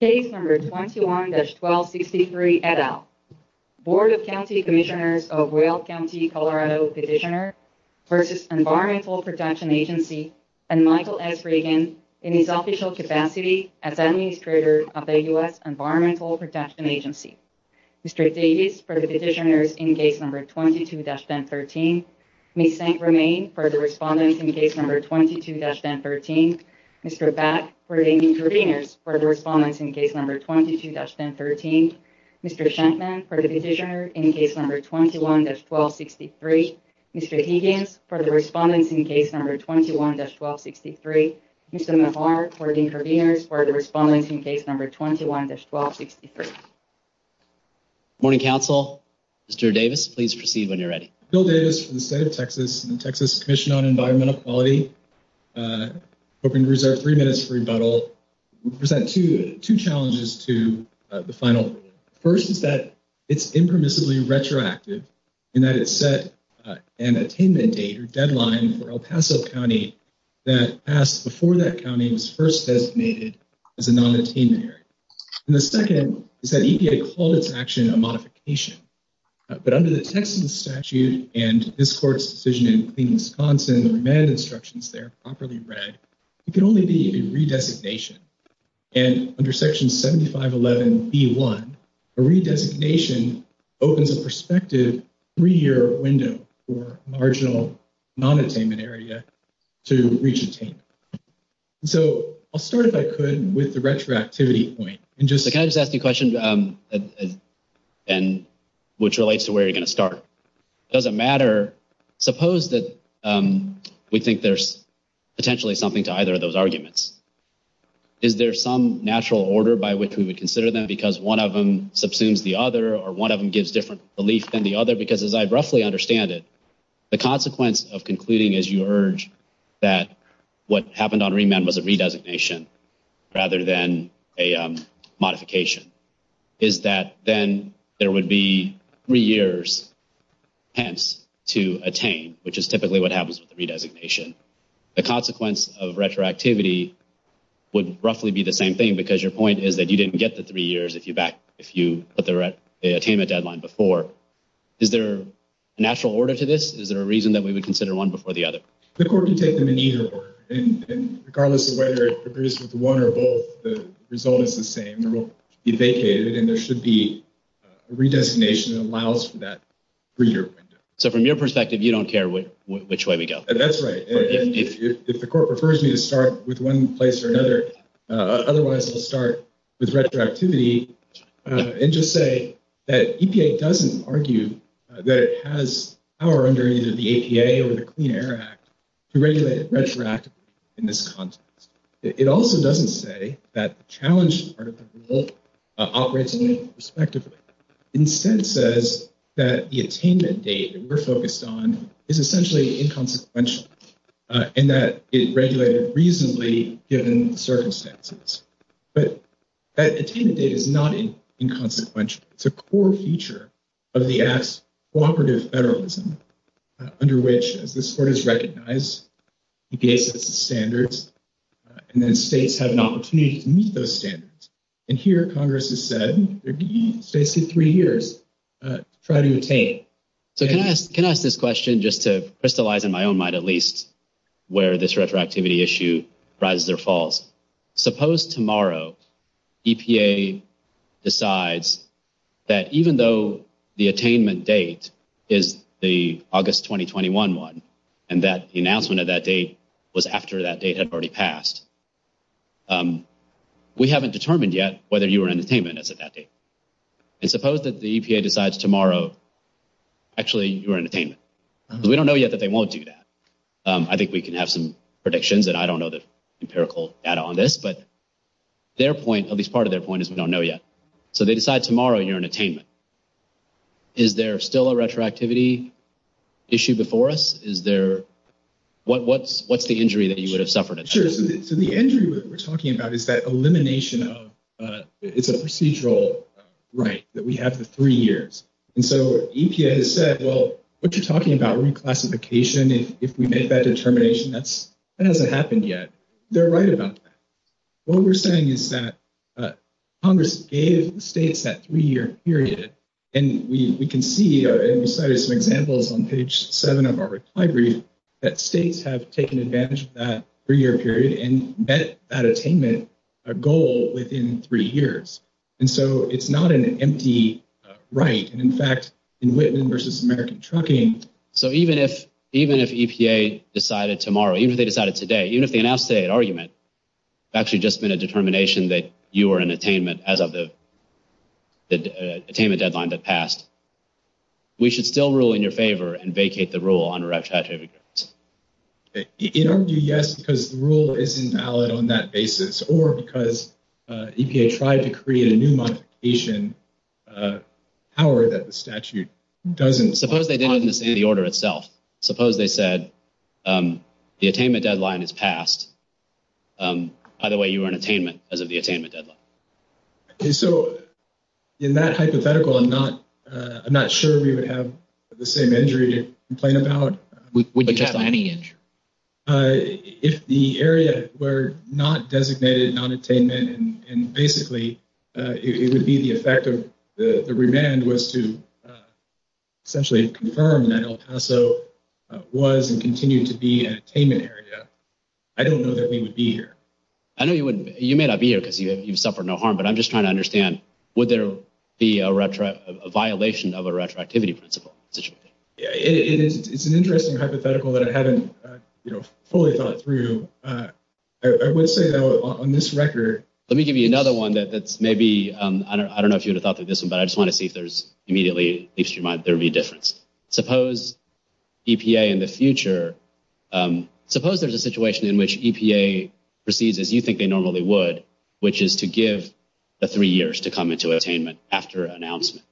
Case No. 21-1263, et al. Board of County Commissioners of Weld County, CO v. Environmental Protection Agency and Michael S. Reagan in his official capacity as Administrator of the U.S. Environmental Protection Agency. Mr. Davis for the petitioners in case No. 22-1? Mic Sang-Ramain for the respondents in case No. 22-1113? Mr. Bhatt for the interveners for the respondent in case No. 22-111? Mr. Shampman for the petitioners in case No. 21-1263? Mr. Higgins for the respondent in case No. 21-1263? Mr. Mavart for the interveners for the respondent in case No. 21-1263? Morning, Council. Mr. Davis, please proceed when you're ready. Bill Davis from the state of Texas, from the Texas Commission on Environmental Quality, hoping to reserve three minutes for rebuttal. I'm going to present two challenges to the final. The first is that it's impermissibly retroactive in that it set an attendance date or deadline for El Paso County that passed before that county was first designated as a non-attainment area. And the second is that EPA called for action on modification. But under the Texas statute and this court's decision in Wisconsin, the remand instructions there are properly read. It can only be a redesignation. And under Section 7511B1, a redesignation opens a prospective three-year window for a marginal non-attainment area to retain. So, I'll start, if I could, with the retroactivity point. Can I just ask a question which relates to where you're going to start? It doesn't matter, suppose that we think there's potentially something to either of those arguments. Is there some natural order by which we would consider them because one of them subsumes the other or one of them gives different belief than the other? Because as I roughly understand it, the consequence of concluding as you urge that what happened on remand was a redesignation rather than a modification is that then there would be three years, hence, to attain, which is typically what happens with a redesignation. The consequence of retroactivity would roughly be the same thing because your point is that you didn't get to three years if you put the attainment deadline before. Is there a natural order to this? Is there a reason that we would consider one before the other? The court can take them in either one. And regardless of whether it agrees with one or both, the result is the same. It will be vacated and there should be a redesignation that allows for that three-year window. So, from your perspective, you don't care which way we go? That's right. If the court prefers me to start with one place or another, otherwise, I'll start with retroactivity and just say that EPA doesn't argue that it has power under either the EPA or the Clean Air Act to regulate retroactivity in this context. It also doesn't say that the challenge part of the rule operates in any perspective. It instead says that the attainment date that we're focused on is essentially inconsequential in that it is regulated reasonably given the service status. But that attainment date is not inconsequential. It's a core feature of the act's cooperative federalism under which, as this court has recognized, EPA sets the standards and then states have an opportunity to meet those standards. And here, Congress has said, it'd be safe to three years trying to attain it. So, can I ask this question just to crystallize in my own mind at least where this retroactivity issue rises or falls? Suppose tomorrow EPA decides that even though the attainment date is the August 2021 one and that the announcement of that date was after that date had already passed, we haven't determined yet whether you were in attainment as of that date. And suppose that the EPA decides tomorrow, actually, you were in attainment. We don't know yet that they won't do that. I think we can have some predictions, but I don't know the empirical data on this. But their point, at least part of their point, is we don't know yet. So, they decide tomorrow you're in attainment. Is there still a retroactivity issue before us? Is there, what's the injury that you would have suffered? Sure. So, the injury that we're talking about is that elimination of, it's a procedural right that we have for three years. And so, EPA has said, well, what you're talking about, reclassification, if we make that determination, that hasn't happened yet. They're right about that. What we're saying is that Congress gave states that three-year period. And we can see, and we cited some examples on page seven of our reply brief, that states have taken advantage of that three-year period and met that attainment goal within three years. And so, it's not an empty right. And in fact, in Whitman versus American Trucking. So, even if EPA decided tomorrow, even if they decided today, even if they announced today an argument, actually just been a determination that you are in attainment as of the attainment deadline that passed, we should still rule in your favor and vacate the rule on retroactivity. It won't be yes because the rule isn't valid on that basis or because EPA tried to create a new modification power that the statute doesn't support. Suppose they didn't understand the order itself. Suppose they said, the attainment deadline is passed. Either way, you are in attainment as of the attainment deadline. So, in that hypothetical, I'm not sure we would have the same injury to complain about. We didn't have any injury. If the area were not designated non-attainment and basically, it would be the effect of the remand was to essentially confirm that El Paso was and continued to be an attainment area. I don't know that they would be here. I know you wouldn't. You may not be here because you suffered no harm. But I'm just trying to understand, would there be a violation of a retroactivity principle? It's an interesting hypothetical that I haven't fully thought through. I would say though, on this record. Let me give you another one that maybe, I don't know if you would have thought of this one, but I just want to see if there's immediately, if there would be a difference. Suppose EPA in the future, suppose there's a situation in which EPA proceeds as you think they normally would, which is to give the three years to come into attainment after announcement.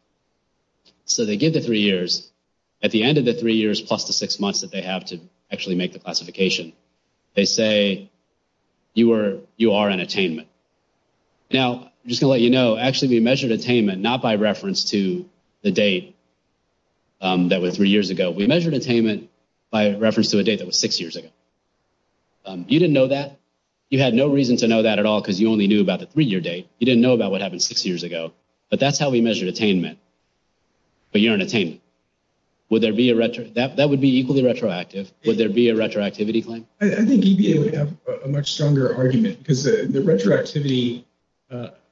So, they give the three years. At the end of the three years plus the six months that they have to actually make the classification. They say you are an attainment. Now, just to let you know, actually we measured attainment not by reference to the date that was three years ago. We measured attainment by reference to a date that was six years ago. You didn't know that. You had no reason to know that at all because you only knew about the three-year date. You didn't know about what happened six years ago. But that's how we measured attainment. But you're an attainment. Would there be a, that would be equally retroactive. Would there be a retroactivity claim? I think EPA would have a much stronger argument because the retroactivity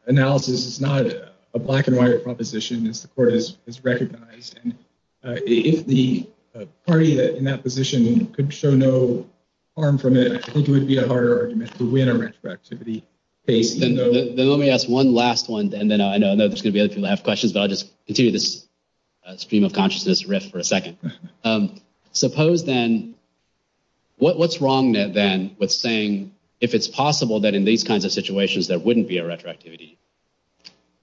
analysis is not a black and white proposition as the court has recognized. If the party in that position could show no harm from it, I think it would be a harder argument to win a retroactivity case. Then let me ask one last one and then I know there's going to be other people that have questions but I'll just continue this stream of consciousness riff for a second. Suppose then, what's wrong then with saying if it's possible that in these kinds of situations there wouldn't be a retroactivity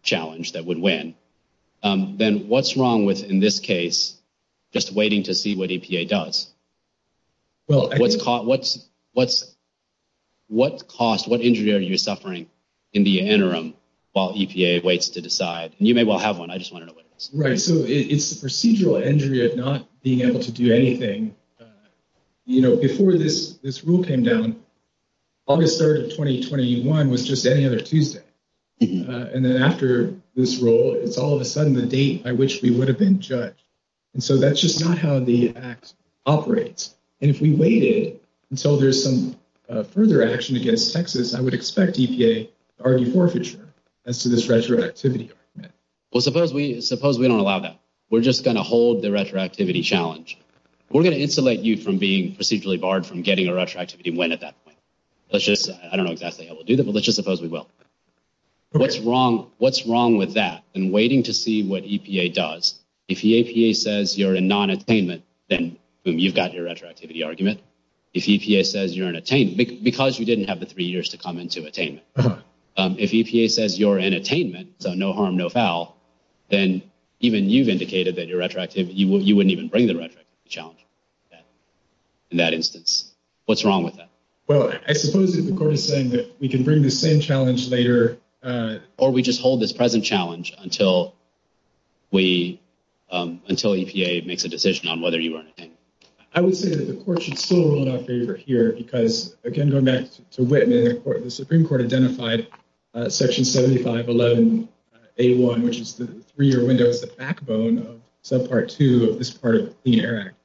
challenge that would win, then what's wrong with in this case just waiting to see what EPA does? What cost, what injury are you suffering in the interim while EPA waits to decide? You may well have one, I just want to know what it is. Right, so it's a procedural injury of not being able to do anything. You know, before this rule came down, August 3rd of 2021 was just any other Tuesday. And then after this rule, it's all of a sudden the date by which we would have been judged. And so that's just not how the act operates. And if we wait until there's some further action against Texas, I would expect EPA to argue forfeiture as to this retroactivity argument. Well, suppose we don't allow that. We're just going to hold the retroactivity challenge. We're going to insulate you from being procedurally barred from getting a retroactivity win at that point. Let's just, I don't know exactly how we'll do that, but let's just suppose we will. What's wrong with that and waiting to see what EPA does? If the EPA says you're in non-attainment, then boom, you've got your retroactivity argument. If EPA says you're in attainment, because you didn't have the three years to come into attainment. If EPA says you're in attainment, so no harm, no foul, then even you've indicated that you're retroactive, you wouldn't even bring the retroactivity challenge in that instance. What's wrong with that? Well, I suppose that the court is saying that we can bring this same challenge later or we just hold this present challenge until EPA makes a decision on whether you are in attainment. I would say that the court should still rule in our favor here because, again, if you go next to Whitman, the Supreme Court identified Section 7511A1, which is the three-year window is the backbone of Subpart 2 of this part of the Clean Air Act.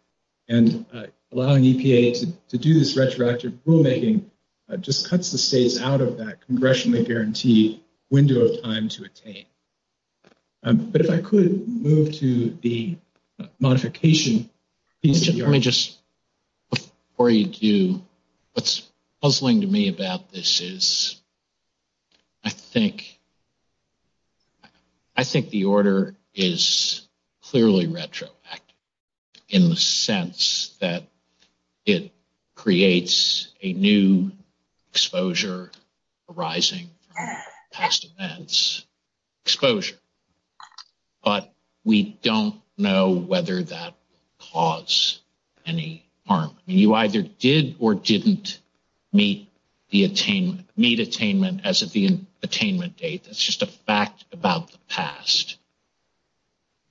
And allowing EPA to do this retroactive rulemaking just cuts the state out of that congressionally guaranteed window of time to attain. But if I could move to the modification. Let me just rephrase you. What's puzzling to me about this is I think the order is clearly retroactive in the sense that it creates a new exposure arising from past events, exposure. But we don't know whether that caused any harm. You either did or didn't meet attainment as of the attainment date. That's just a fact about the past.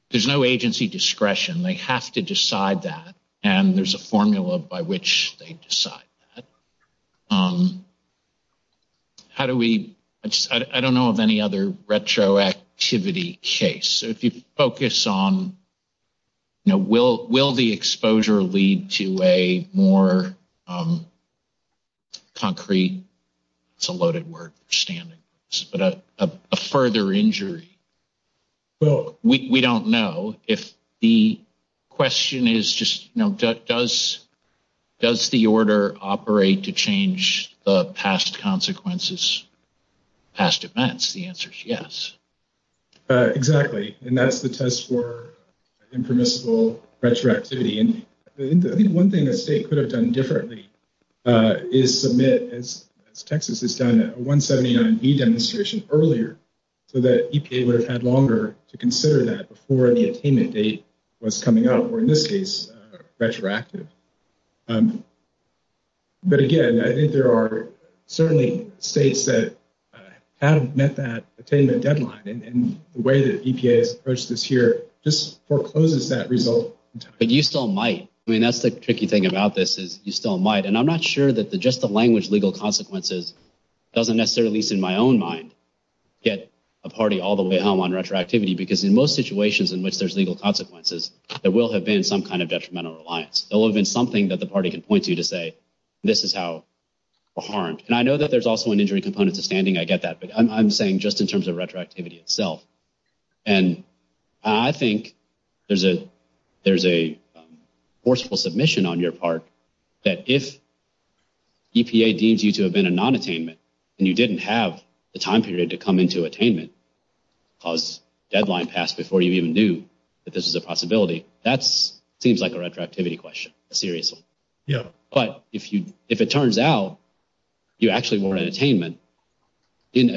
There's no agency discretion. They have to decide that. And there's a formula by which they decide that. How do we – I don't know of any other retroactivity case. If you focus on, you know, will the exposure lead to a more concrete – it's a loaded word for standing, but a further injury. So we don't know if the question is just, you know, does the order operate to change the past consequences, past events? The answer is yes. Exactly. And that's the test for impermissible retroactivity. And I think one thing that the state could have done differently is submit, as Texas has done, a 179B demonstration earlier so that EPA would have had longer to consider that before the attainment date was coming up, or in this case, retroactive. But again, I think there are certainly states that have met that attainment deadline. And the way that EPA has approached this here just forecloses that result. But you still might. I mean, that's the tricky thing about this is you still might. And I'm not sure that the just-the-language legal consequences doesn't necessarily, at least in my own mind, get a party all the way home on retroactivity. Because in most situations in which there's legal consequences, there will have been some kind of detrimental reliance. There will have been something that the party can point to to say, this is how we're harmed. And I know that there's also an injury component to standing. I get that. But I'm saying just in terms of retroactivity itself. And I think there's a forceful submission on your part that if EPA deems you to have been a non-attainment and you didn't have the time period to come into attainment, cause deadline passed before you even knew that this is a possibility, that seems like a retroactivity question, seriously. But if you-if it turns out you actually were in attainment, then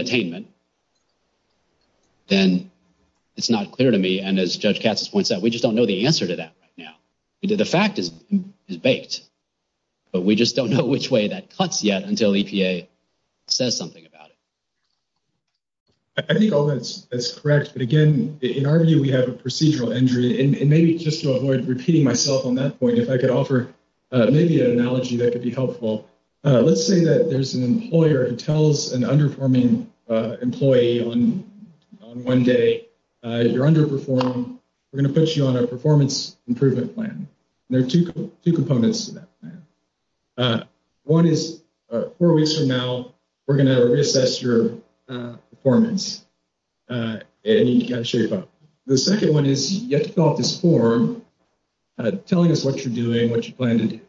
it's not clear to me. And as Judge Katsas points out, we just don't know the answer to that right now. Either the fact is baked. But we just don't know which way that cuts yet until EPA says something about it. I think all that's correct. But again, in our view, we have a procedural injury. And maybe just to avoid repeating myself on that point, if I could offer maybe an analogy that could be helpful. Let's say that there's an employer that tells an underperforming employee on one day you're underperformed, we're going to put you on a performance improvement plan. There are two components to that plan. One is four weeks from now, we're going to reassess your performance and you can't shave off. The second one is you get to fill out this form telling us what you're doing, what you plan to do.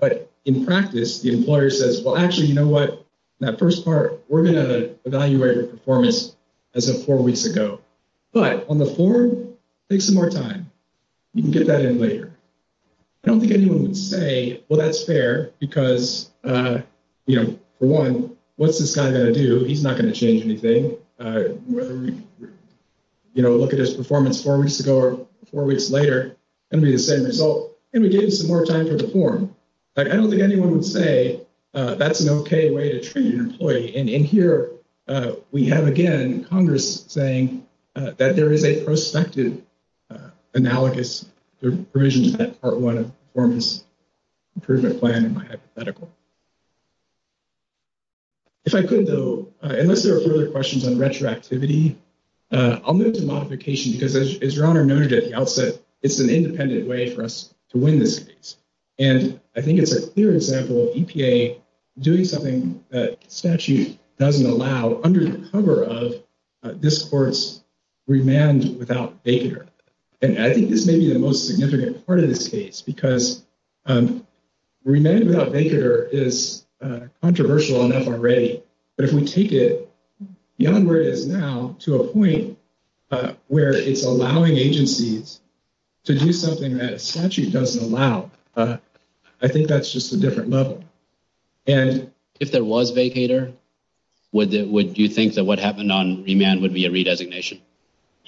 But in practice, the employer says, well, actually, you know what? That first part, we're going to evaluate your performance as of four weeks ago. But on the form, take some more time. You can get that in later. I don't think anyone would say, well, that's fair because, you know, for one, what's this guy going to do? He's not going to change anything. So, you know, look at his performance four weeks ago or four weeks later, it's going to be the same result, and we gave you some more time for the form. I don't think anyone would say that's an okay way to treat an employee. And here we have, again, Congress saying that there is a prospective analogous to provisions in that part one of the performance improvement plan hypothetical. If I could, though, unless there are further questions on retroactivity, I'll move to modification because, as Your Honor noted at the outset, it's an independent way for us to win this case. And I think it's a clear example of EPA doing something that statute doesn't allow under the cover of this court's remand without vacater. And I think this may be the most significant part of this case because remand without vacater is controversial enough already, but if we take it beyond where it is now to a point where it's allowing agencies to do something that statute doesn't allow, I think that's just a different level. And if there was vacater, would you think that what happened on remand would be a redesignation?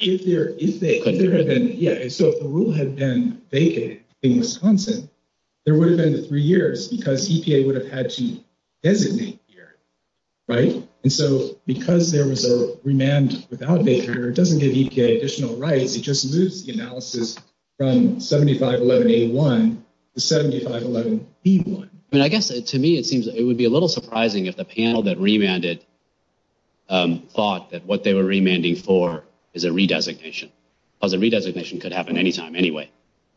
If there had been, yeah, so if the rule had been vacated in Wisconsin, there would have been three years because EPA would have had to designate here, right? And so because there was a remand without vacater, it doesn't give EPA additional rights. It just moves the analysis from 7511A1 to 7511B1. And I guess, to me, it seems it would be a little surprising if the panel that remanded thought that what they were remanding for is a redesignation. Well, the redesignation could happen anytime anyway.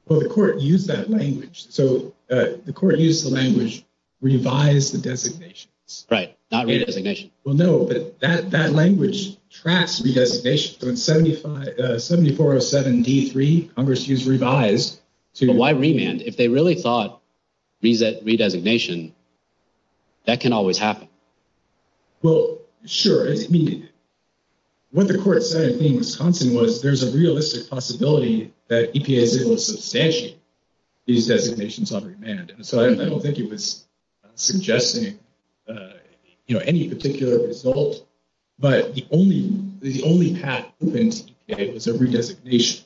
Well, the court used that language. So the court used the language, revise the designations. Right, not redesignation. Well, no, but that language tracks redesignation. So in 7407D3, Congress used revise. So why remand? If they really thought redesignation, that can always happen. Well, sure. I mean, what the court said in Wisconsin was there's a realistic possibility that EPA is able to substantiate these designations on remand. So I don't think it was suggesting, you know, any particular result. But the only path open to EPA was a redesignation.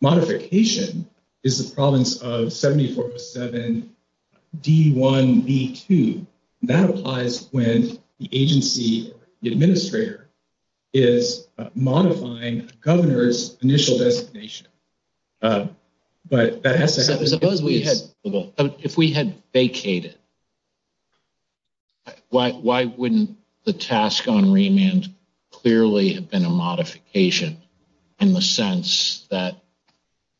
Modification is the province of 7407D1B2. That applies when the agency, the administrator, is modifying the governor's initial designation. But that has to happen. Suppose we had, well, if we had vacated, why wouldn't the task on remand clearly have been a modification in the sense that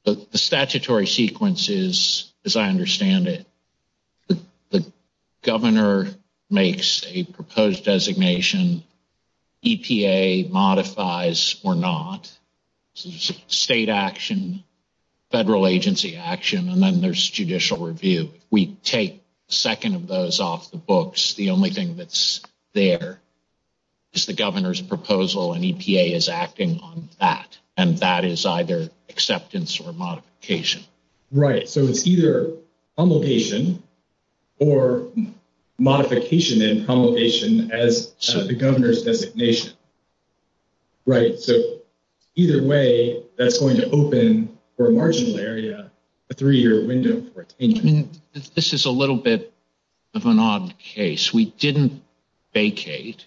the statutory sequence is, as I understand it, the governor makes a proposed designation, EPA modifies or not. So there's state action, federal agency action, and then there's judicial review. We take a second of those off the books. The only thing that's there is the governor's proposal, and EPA is acting on that. And that is either acceptance or modification. Right. So it's either humiliation or modification and humiliation as the governor's designation. Right. So either way, that's going to open for a marginal area a three-year window for extension. This is a little bit of an odd case. We didn't vacate,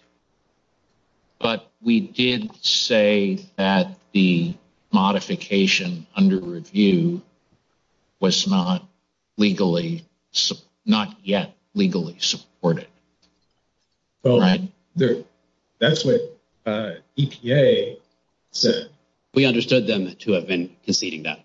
but we did say that the modification under review was not legally, not yet legally supported. So that's what EPA said. We understood them to have been conceding that.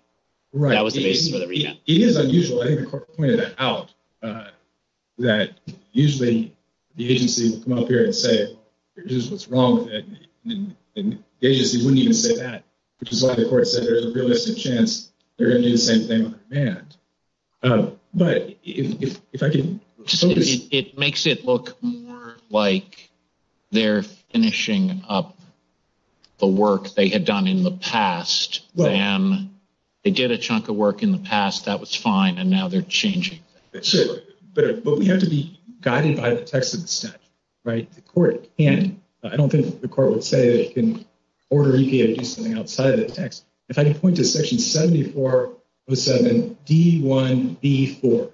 Right. That was the case for the remand. It is unusual. I think the court pointed that out, that usually the agency would come up here and say there's just what's wrong with it, and the agency wouldn't even say that, which is why the court said there's a realistic chance they're going to do the same thing on remand. It makes it look more like they're finishing up the work they had done in the past. And they did a chunk of work in the past that was fine, and now they're changing it. But we have to be guided by the text of the statute. Right. The court can't. I don't think the court would say it can order EPA to do something outside of the text. If I can point to section 7407, D1B4.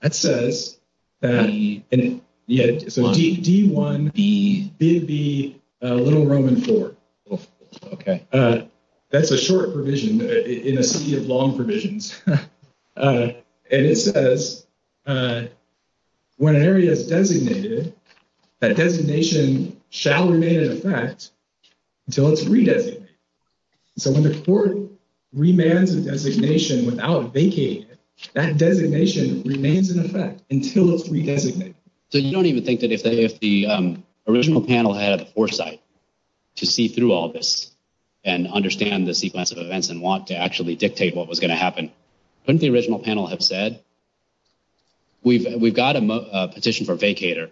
That says that D1B, B, B, little Roman four. Okay. That's a short provision in a sea of long provisions. And it says when an area is designated, that designation shall remain in effect until it's re-designated. So when the court remands a designation without vacating it, that designation remains in effect until it's re-designated. So you don't even think that if the original panel had foresight to see through all this and understand the sequence of events and want to actually dictate what was going to happen, couldn't the original panel have said, we've got a petition for a vacater.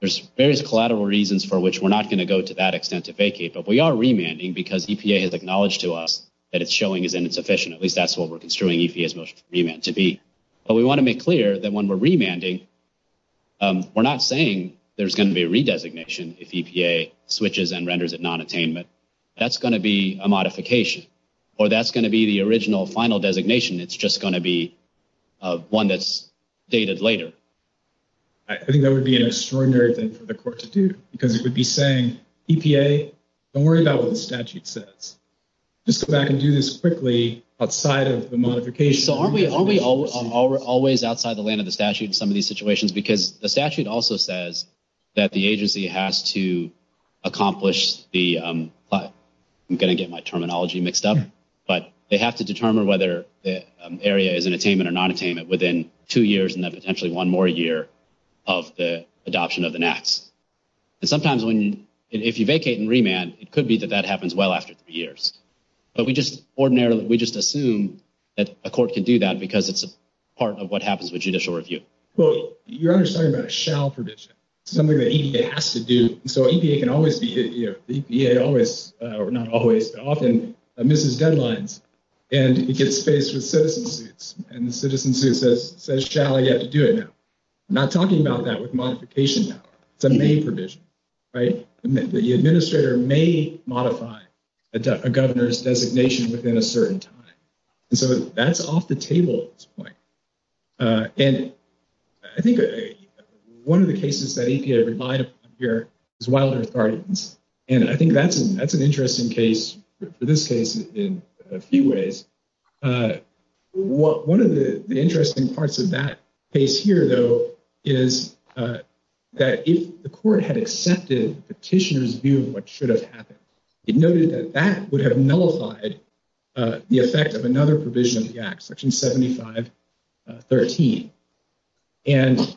There's various collateral reasons for which we're not going to go to that extent to vacate. But we are remanding because EPA has acknowledged to us that it's showing it's insufficient. At least that's what we're construing EPA's motion to remand to be. But we want to make clear that when we're remanding, we're not saying there's going to be a re-designation if EPA switches and renders it non-attainment. That's going to be a modification. Or that's going to be the original final designation. It's just going to be one that's dated later. I think that would be an extraordinary thing for the court to do. Because it would be saying, EPA, don't worry about what the statute says. Just go back and do this quickly outside of the modification. So aren't we always outside the land of the statute in some of these situations? Because the statute also says that the agency has to accomplish the... I'm going to get my terminology mixed up. But they have to determine whether the area is in attainment or non-attainment within two years and then potentially one more year of the adoption of an act. Sometimes if you vacate and remand, it could be that that happens well after three years. But ordinarily, we just assume that a court can do that because it's a part of what happens with judicial review. Well, you're understanding about a shall provision. Something that EPA has to do. So EPA can always be here. EPA always, or not always, but often, misses deadlines. And it gets faced with citizenship. And the citizenship says, shall, you have to do it now. I'm not talking about that with modification now. It's a may provision. The administrator may modify a governor's designation within a certain time. And so that's off the table at this point. And I think one of the cases that EPA provided here is wildlife gardens. And I think that's an interesting case, for this case, in a few ways. But one of the interesting parts of that case here, though, is that if the court had accepted the petitioner's view of what should have happened, it noted that that would have nullified the effect of another provision of the act, section 7513. And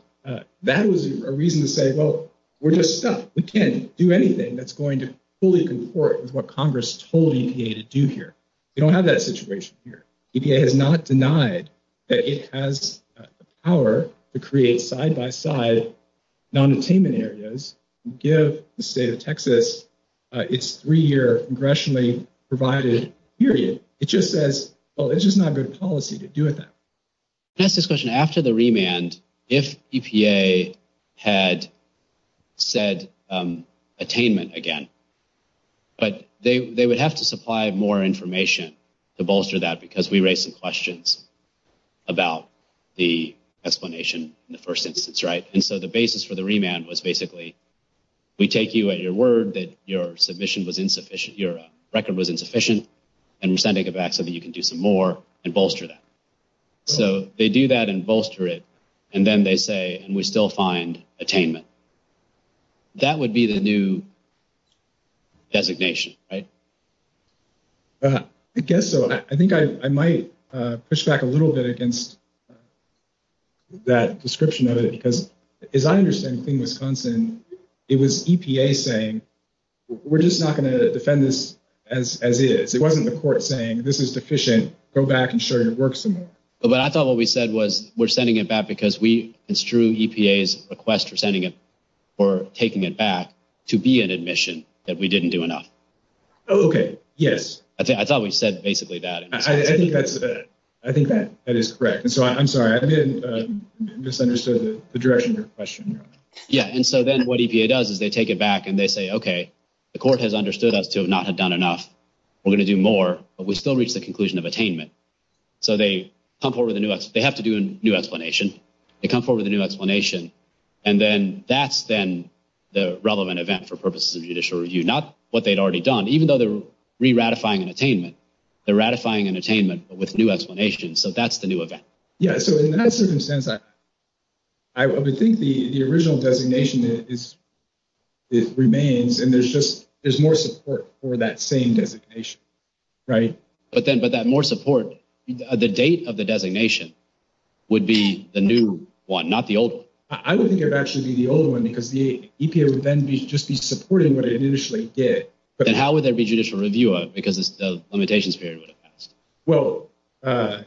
that was a reason to say, well, we're just stuck. We can't do anything that's going to fully comport with what Congress told EPA to do here. We don't have that situation here. EPA has not denied that it has the power to create side-by-side non-attainment areas and give the state of Texas its three-year congressionally provided period. It just says, oh, this is not good policy to do that. I'm going to ask this question. After the remand, if EPA had said attainment again, but they would have to supply more information to bolster that because we raised some questions about the explanation in the first instance, right? And so the basis for the remand was basically, we take you at your word that your submission was insufficient, your record was insufficient, and we're sending it back so that you can do some more and bolster that. So they do that and bolster it. And then they say, and we still find attainment. So that would be the new designation, right? I guess so. I think I might push back a little bit against that description of it because as I understand it in Wisconsin, it was EPA saying, we're just not going to defend this as it is. It wasn't the court saying, this is deficient. Go back and show your work some more. But I thought what we said was, we're sending it back because it's true EPA's request for taking it back to be an admission that we didn't do enough. Oh, okay. Yes. I thought we said basically that. I think that is correct. And so I'm sorry, I misunderstood the direction of the question. Yeah. And so then what EPA does is they take it back and they say, okay, the court has understood us to not have done enough. We're going to do more, but we still reach the conclusion of attainment. So they come forward with a new, they have to do a new explanation. They come forward with a new explanation. And then that's then the relevant event for purposes of judicial review, not what they'd already done, even though they're re-ratifying an attainment, they're ratifying an attainment with new explanations. So that's the new event. Yeah. So in that circumstance, I would think the original designation, it remains and there's just, there's more support for that same designation. Right. But then, but that more support, the date of the designation would be the new one, not the old one. I would think it would actually be the old one because the EPA would then be just be supporting what it initially did. And how would there be judicial review of it? Because the limitations period would have passed. Well, I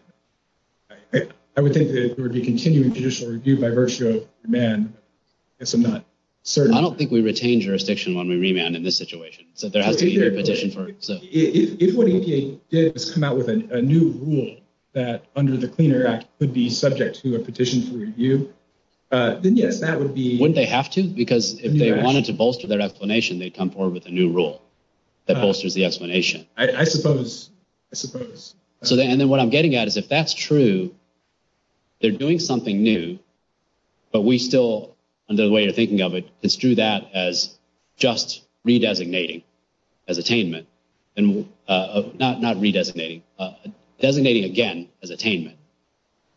would think that there would be continued judicial review by virtue of demand. I guess I'm not certain. I don't think we retained jurisdiction when we remanded in this situation. So there has to be a petition for it. If what EPA did is come out with a new rule that under the Clean Air Act could be subject to a petition for review, then yes, that would be... Wouldn't they have to? Because if they wanted to bolster their explanation, they'd come forward with a new rule that bolsters the explanation. I suppose. I suppose. So then what I'm getting at is if that's true, they're doing something new, but we still, and the way you're thinking of it, it's through that as just redesignating as attainment and not redesignating, designating again as attainment.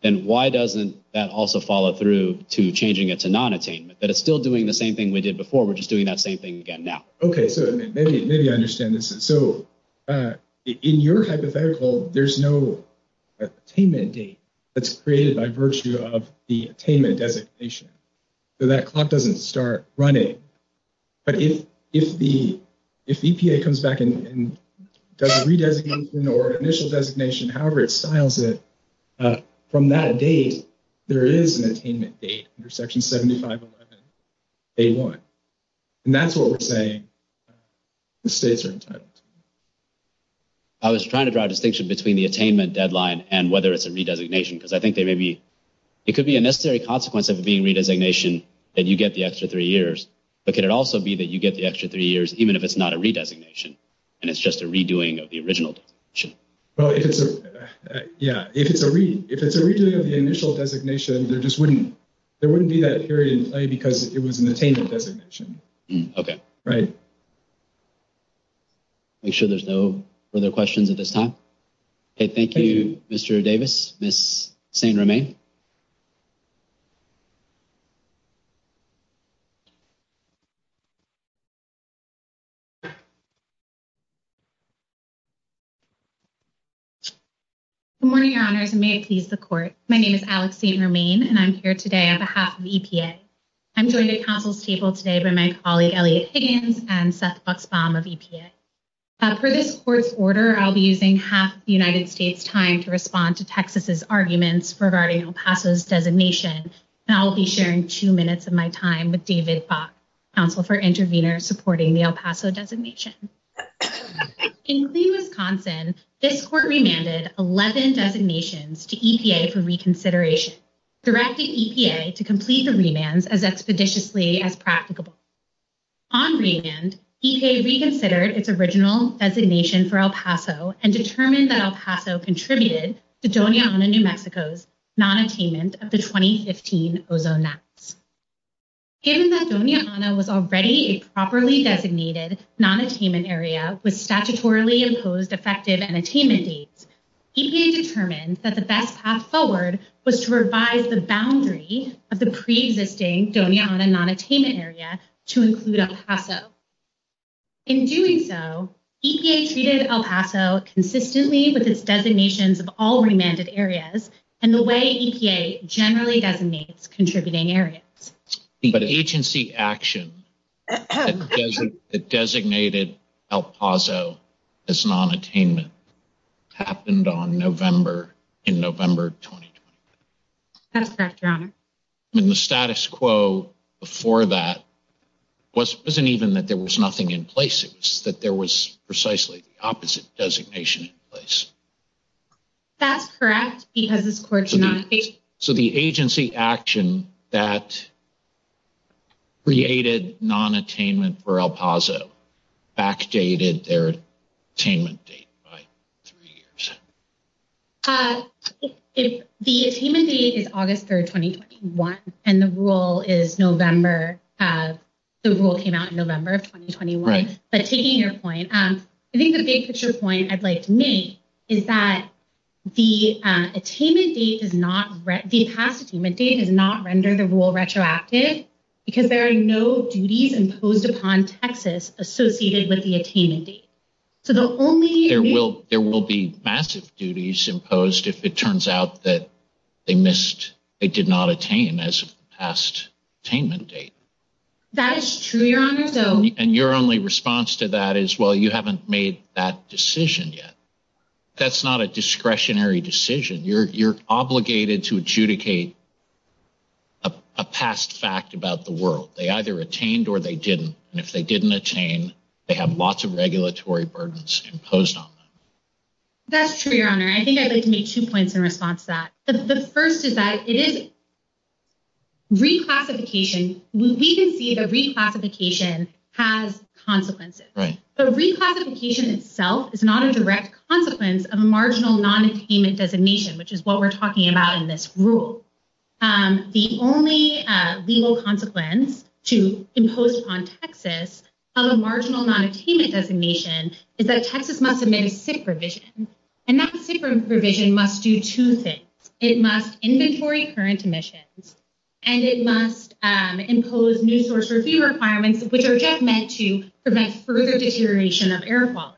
And why doesn't that also follow through to changing it to non-attainment? That it's still doing the same thing we did before. We're just doing that same thing again now. Okay. So maybe I understand this. So in your hypothetical, there's no attainment date that's created by virtue of the attainment designation. So that clock doesn't start running. But if the EPA comes back and does a redesignation or initial designation, however it styles it, from that date, there is an attainment date under Section 7511A1, and that's what we're saying the states are entitled to. I was trying to draw a distinction between the attainment deadline and whether it's a redesignation, because I think there may be... It could be a necessary consequence of it being a redesignation that you get the extra three years. But could it also be that you get the extra three years even if it's not a redesignation and it's just a redoing of the original designation? Yeah. If it's a redoing of the initial designation, there wouldn't be that period in play because it was an attainment designation. Okay. Right. Make sure there's no further questions at this time. Okay. Thank you, Mr. Davis. Ms. Saint-Romain. Good morning, Your Honors, and may it please the Court. My name is Alex Saint-Romain, and I'm here today on behalf of EPA. I'm joined at Council's table today by my colleague Elliot Higgins and Seth Buxbaum of EPA. For this Court's order, I'll be using half of the United States' time to respond to Texas's arguments regarding El Paso's designations, and I'll be sharing two minutes of my time with Davis. Counsel for Intervenors Supporting the El Paso Designation. In Cleveland, Wisconsin, this Court remanded 11 designations to EPA for reconsideration, directing EPA to complete the remands as expeditiously as practicable. On remand, EPA reconsidered its original designation for El Paso and determined that El Paso contributed to Doña Ana, New Mexico's nonattainment of the 2015 ozone maps. Given that Doña Ana was already a properly designated nonattainment area with statutorily imposed effective unattainment dates, EPA determined that the best path forward was to revise the boundaries of the pre-existing Doña Ana nonattainment area to include El Paso. In doing so, EPA treated El Paso consistently with its designations of all remanded areas and the way EPA generally designates contributing areas. But agency action that designated El Paso as nonattainment happened on November, in November 2020. That's correct, Your Honor. And the status quo before that wasn't even that there was nothing in place, it was that there was precisely the opposite designation in place. That's correct, because the score did not change. Okay, so the agency action that created nonattainment for El Paso backdated their attainment date by three years. The attainment date is August 3rd, 2021, and the rule is November, the rule came out in November of 2021. Right. But taking your point, I think the big picture point I'd like to make is that the attainment date does not, the past attainment date does not render the rule retroactive, because there are no duties imposed upon Texas associated with the attainment date. So the only- There will be massive duties imposed if it turns out that they missed, they did not attain as past attainment date. That is true, Your Honor, so- And your only response to that is, well, you haven't made that decision yet. That's not a discretionary decision. You're obligated to adjudicate a past fact about the world. They either attained or they didn't, and if they didn't attain, they have lots of regulatory burdens imposed on them. That's true, Your Honor. I think I'd like to make two points in response to that. The first is that it is reclassification. We can see that reclassification has consequences, but reclassification itself is not a direct consequence of a marginal non-attainment designation, which is what we're talking about in this rule. The only legal consequence to impose on Texas of a marginal non-attainment designation is that Texas must amend TIC provisions, and that TIC provision must do two things. It must inventory current emissions, and it must impose new source review requirements, which are just meant to prevent further deterioration of air quality.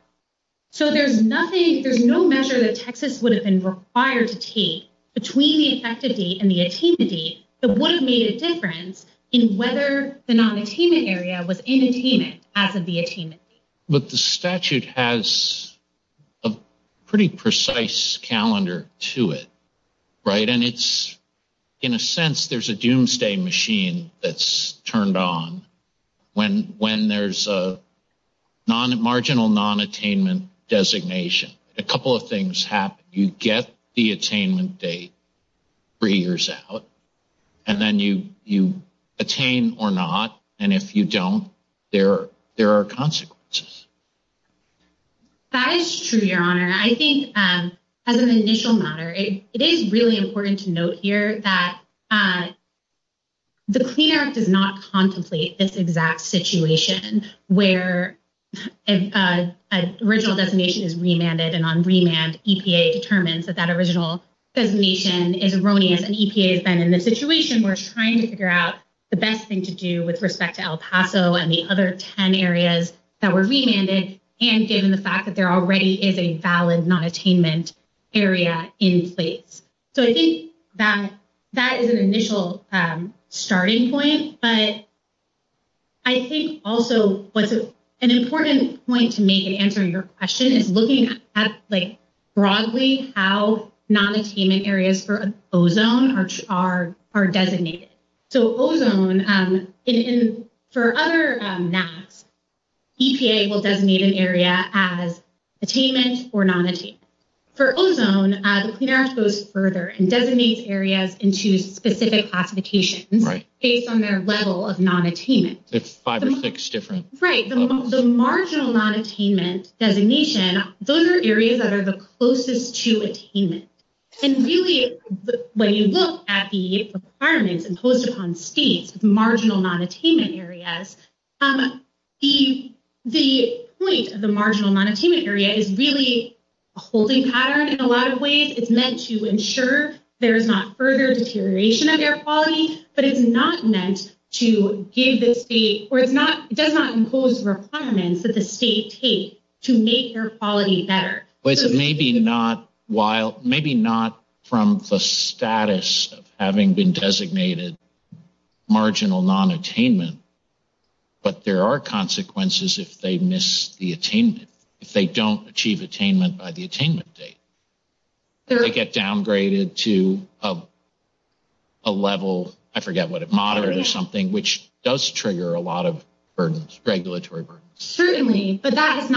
So there's nothing- there's no measure that Texas would have been required to take between the effective date and the attainment date that would have made a difference in whether the non-attainment area was inattainment as of the attainment date. But the statute has a pretty precise calendar to it, right? And it's- in a sense, there's a doomsday machine that's turned on when there's a marginal non-attainment designation. A couple of things happen. You get the attainment date three years out, and then you attain or not, and if you don't, there are consequences. That is true, Your Honor. I think as an initial matter, it is really important to note here that the Clean Air Act does not contemplate this exact situation where an original designation is remanded, and on remand, EPA determines that that original designation is erroneous, and EPA is then in the situation where it's trying to figure out the best thing to do with respect to El Nino and other 10 areas that were remanded, and given the fact that there already is a valid non-attainment area in place. So I think that that is an initial starting point, but I think also an important point to make in answering your question is looking at, like, broadly how non-attainment areas for ozone are designated. So ozone, for other maps, EPA will designate an area as attainment or non-attainment. For ozone, the Clean Air Act goes further and designates areas into specific applications based on their level of non-attainment. It's five or six different. Right. The marginal non-attainment designation, those are areas that are the closest to attainment, and really when you look at the requirements imposed upon states, marginal non-attainment areas, the point of the marginal non-attainment area is really a holding pattern in a lot of ways. It's meant to ensure there is not further deterioration of air quality, but it's not meant to give the state, or it does not impose requirements that the state takes to make air quality better. But maybe not while, maybe not from the status of having been designated marginal non-attainment, but there are consequences if they miss the attainment, if they don't achieve attainment by the attainment date. They get downgraded to a level, I forget what, moderate or something, which does trigger a lot of burdens, regulatory burdens. Certainly, but that has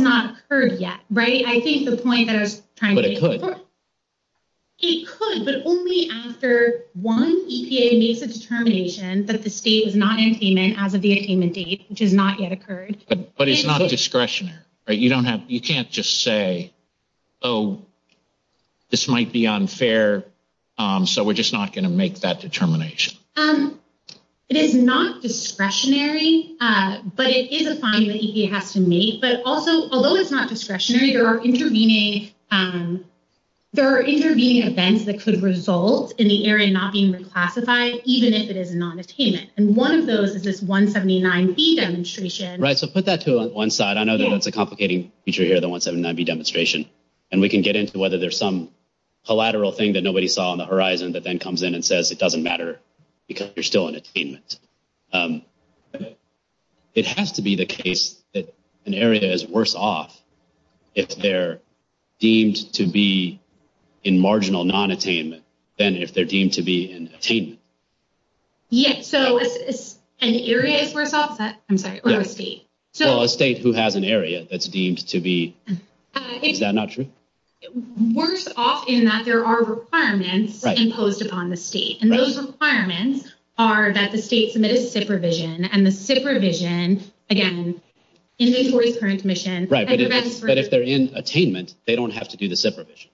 not occurred yet. Right? I think the point that I was trying to make is that it could, but only after one EPA makes a determination that the state is not in payment as of the attainment date, which has not yet occurred. But it's not discretionary, right? You can't just say, oh, this might be unfair, so we're just not going to make that determination. Um, it is not discretionary, but it is a finding that EPA has to make. But also, although it's not discretionary, there are intervening events that could result in the area not being reclassified, even if it is a non-attainment. And one of those is this 179B demonstration. Right. So put that to one side. I know that it's a complicating feature here, the 179B demonstration. And we can get into whether there's some collateral thing that nobody saw on the horizon that then comes in and says it doesn't matter because you're still in attainment. It has to be the case that an area is worse off if they're deemed to be in marginal non-attainment than if they're deemed to be in attainment. Yes. So if it's an area that's worse off, that's what it would be. So a state who has an area that's deemed to be, is that not true? Worse off in that there are requirements imposed upon the state. And those requirements are that the state submit a SIP revision. And the SIP revision, again, inventory the current commission. Right. But if they're in attainment, they don't have to do the SIP revision.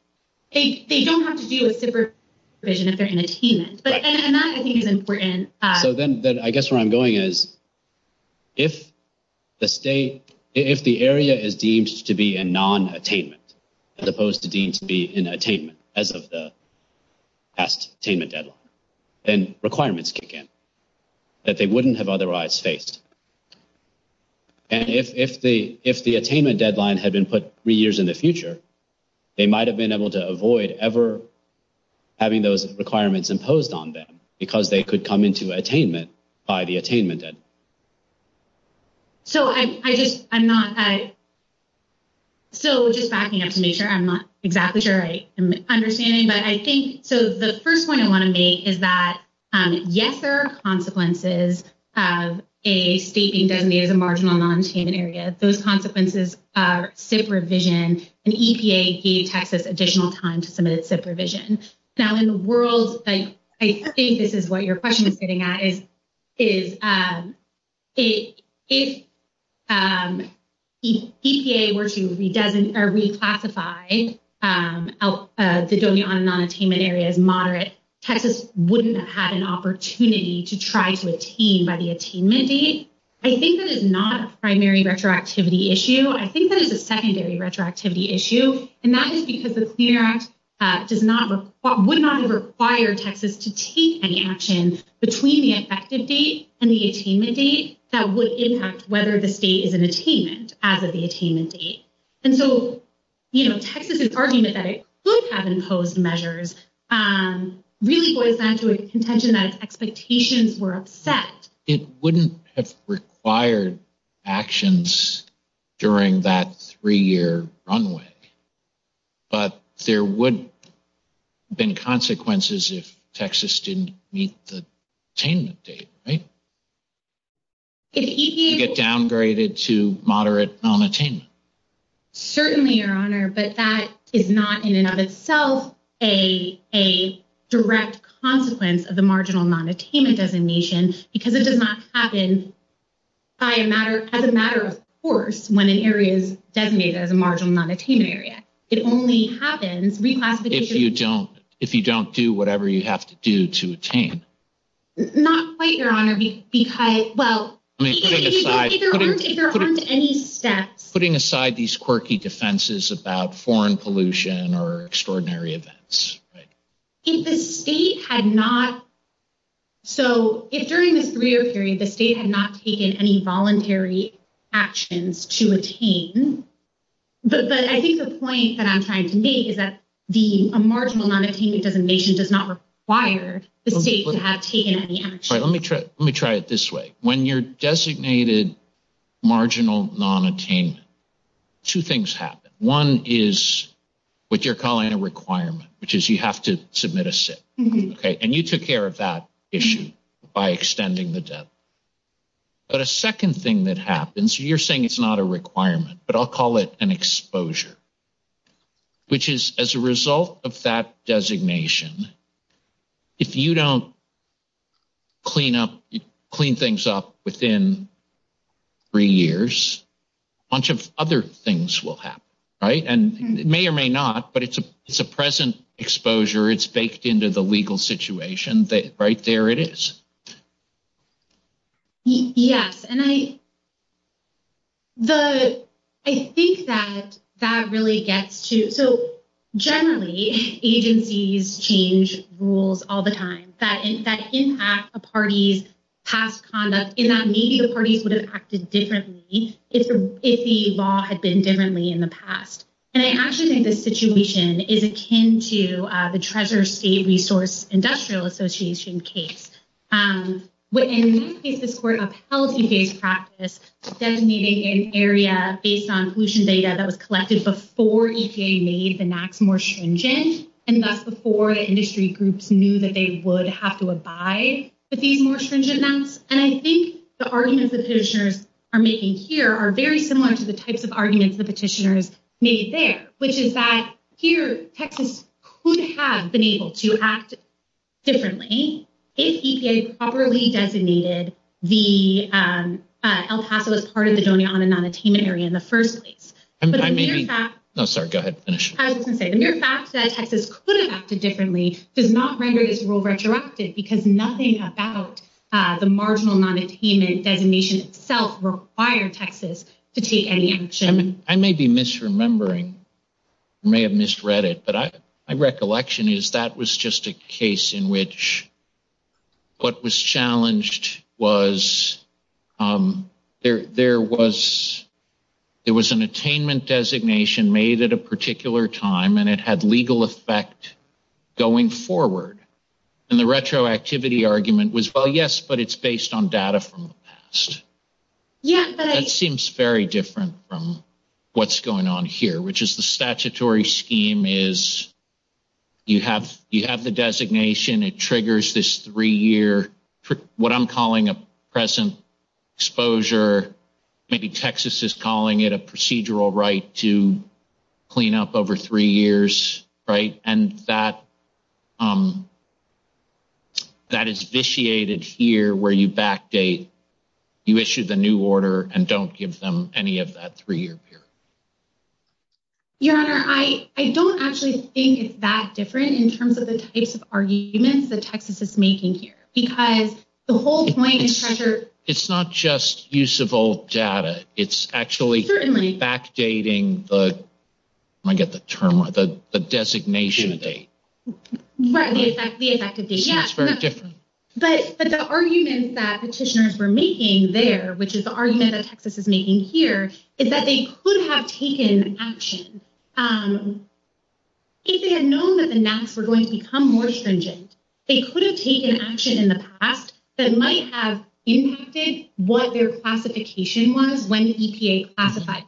They don't have to do a SIP revision if they're in attainment. And that, I think, is important. So then I guess where I'm going is, if the state, if the area is deemed to be in non-attainment, as opposed to deemed to be in attainment, as of the past attainment deadline, then requirements kick in that they wouldn't have otherwise faced. And if the attainment deadline had been put three years in the future, they might have been able to avoid ever having those requirements imposed on them, because they could come into attainment by the attainment deadline. So I just, I'm not, I'm so just backing up to make sure I'm not exactly sure I'm understanding. But I think, so the first point I want to make is that, yes, there are consequences of a state being designated as a marginal non-attainment area. Those consequences are SIP revision. And EPA gave Texas additional time to submit a SIP revision. Now, in the world, I think this is what your question was getting at, is if EPA were to re-classify the zoning on a non-attainment area as moderate, Texas wouldn't have an opportunity to try to attain by the attainment date. I think that is not a primary retroactivity issue. I think that is a secondary retroactivity issue. And that is because the CUNARAC would not have required Texas to take any actions between the effective date and the attainment date that would impact whether the state is in attainment as of the attainment date. And so, you know, Texas's argument that it could have imposed measures really boils down to a contention that expectations were upset. It wouldn't have required actions during that three-year runway. But there would have been consequences if Texas didn't meet the attainment date, right? If EPA... To get downgraded to moderate non-attainment. Certainly, Your Honor. But that is not in and of itself a direct consequence of the marginal non-attainment designation because it does not happen as a matter of course when an area is designated as a marginal non-attainment area. It only happens... If you don't do whatever you have to do to attain. Not quite, Your Honor, because... Well, if there aren't any steps... Putting aside these quirky defenses about foreign pollution or extraordinary events. If the state had not... So, if during the three-year period the state had not taken any voluntary actions to attain, then I think the point that I'm trying to make is that the marginal non-attainment designation does not require the state to have taken any action. All right, let me try it this way. When you're designated marginal non-attainment, two things happen. One is what you're calling a requirement, which is you have to submit a state, okay? And you took care of that issue by extending the debt. But a second thing that happens, you're saying it's not a requirement, but I'll call it an exposure, which is as a result of that designation, if you don't clean things up within three years, a bunch of other things will happen, right? And it may or may not, but it's a present exposure. It's baked into the legal situation that right there it is. Yes, and I think that that really gets to... So, generally, agencies change rules all the time that impact a party's past conduct in that maybe the party would have acted differently if the law had been differently in the past. And I actually think this situation is akin to the Treasurer's State Resource Industrial Association case. And in this case, this court upheld EPA's practice of designating an area based on pollution data that was collected before EPA made the NAAQS more stringent. And that's before the industry groups knew that they would have to abide to these more stringent NAAQS. And I think the arguments the petitioners are making here are very similar to the types of arguments the petitioners made there, which is that here, Texas could have been able to act differently if EPA properly designated the El Paso as part of the Doña Ana non-attainment area in the first place. But the mere fact that Texas could have acted differently does not render this rule retroactive because nothing about the marginal non-attainment designation itself required Texas to take any action. I may be misremembering. May have misread it. But my recollection is that was just a case in which what was challenged was there was there was an attainment designation made at a particular time and it had legal effect going forward. And the retroactivity argument was, well, yes, but it's based on data from the past. That seems very different from what's going on here, which is the statutory scheme is you have the designation. It triggers this three-year, what I'm calling a present exposure. Maybe Texas is calling it a procedural right to clean up over three years, right? And that is vitiated here where you backdate. You issue the new order and don't give them any of that three-year period. Your Honor, I don't actually think it's that different in terms of the types of arguments that Texas is making here because the whole point is treasured. It's not just use of old data. It's actually backdating the, I get the term, the designation date. Right, the effective date. Yes, but the argument that petitioners were making there, which is the argument that Texas is making here, is that they could have taken action. If they had known that the maps were going to become more stringent, they could have taken action in the past that might have impacted what their classification was when EPA classified.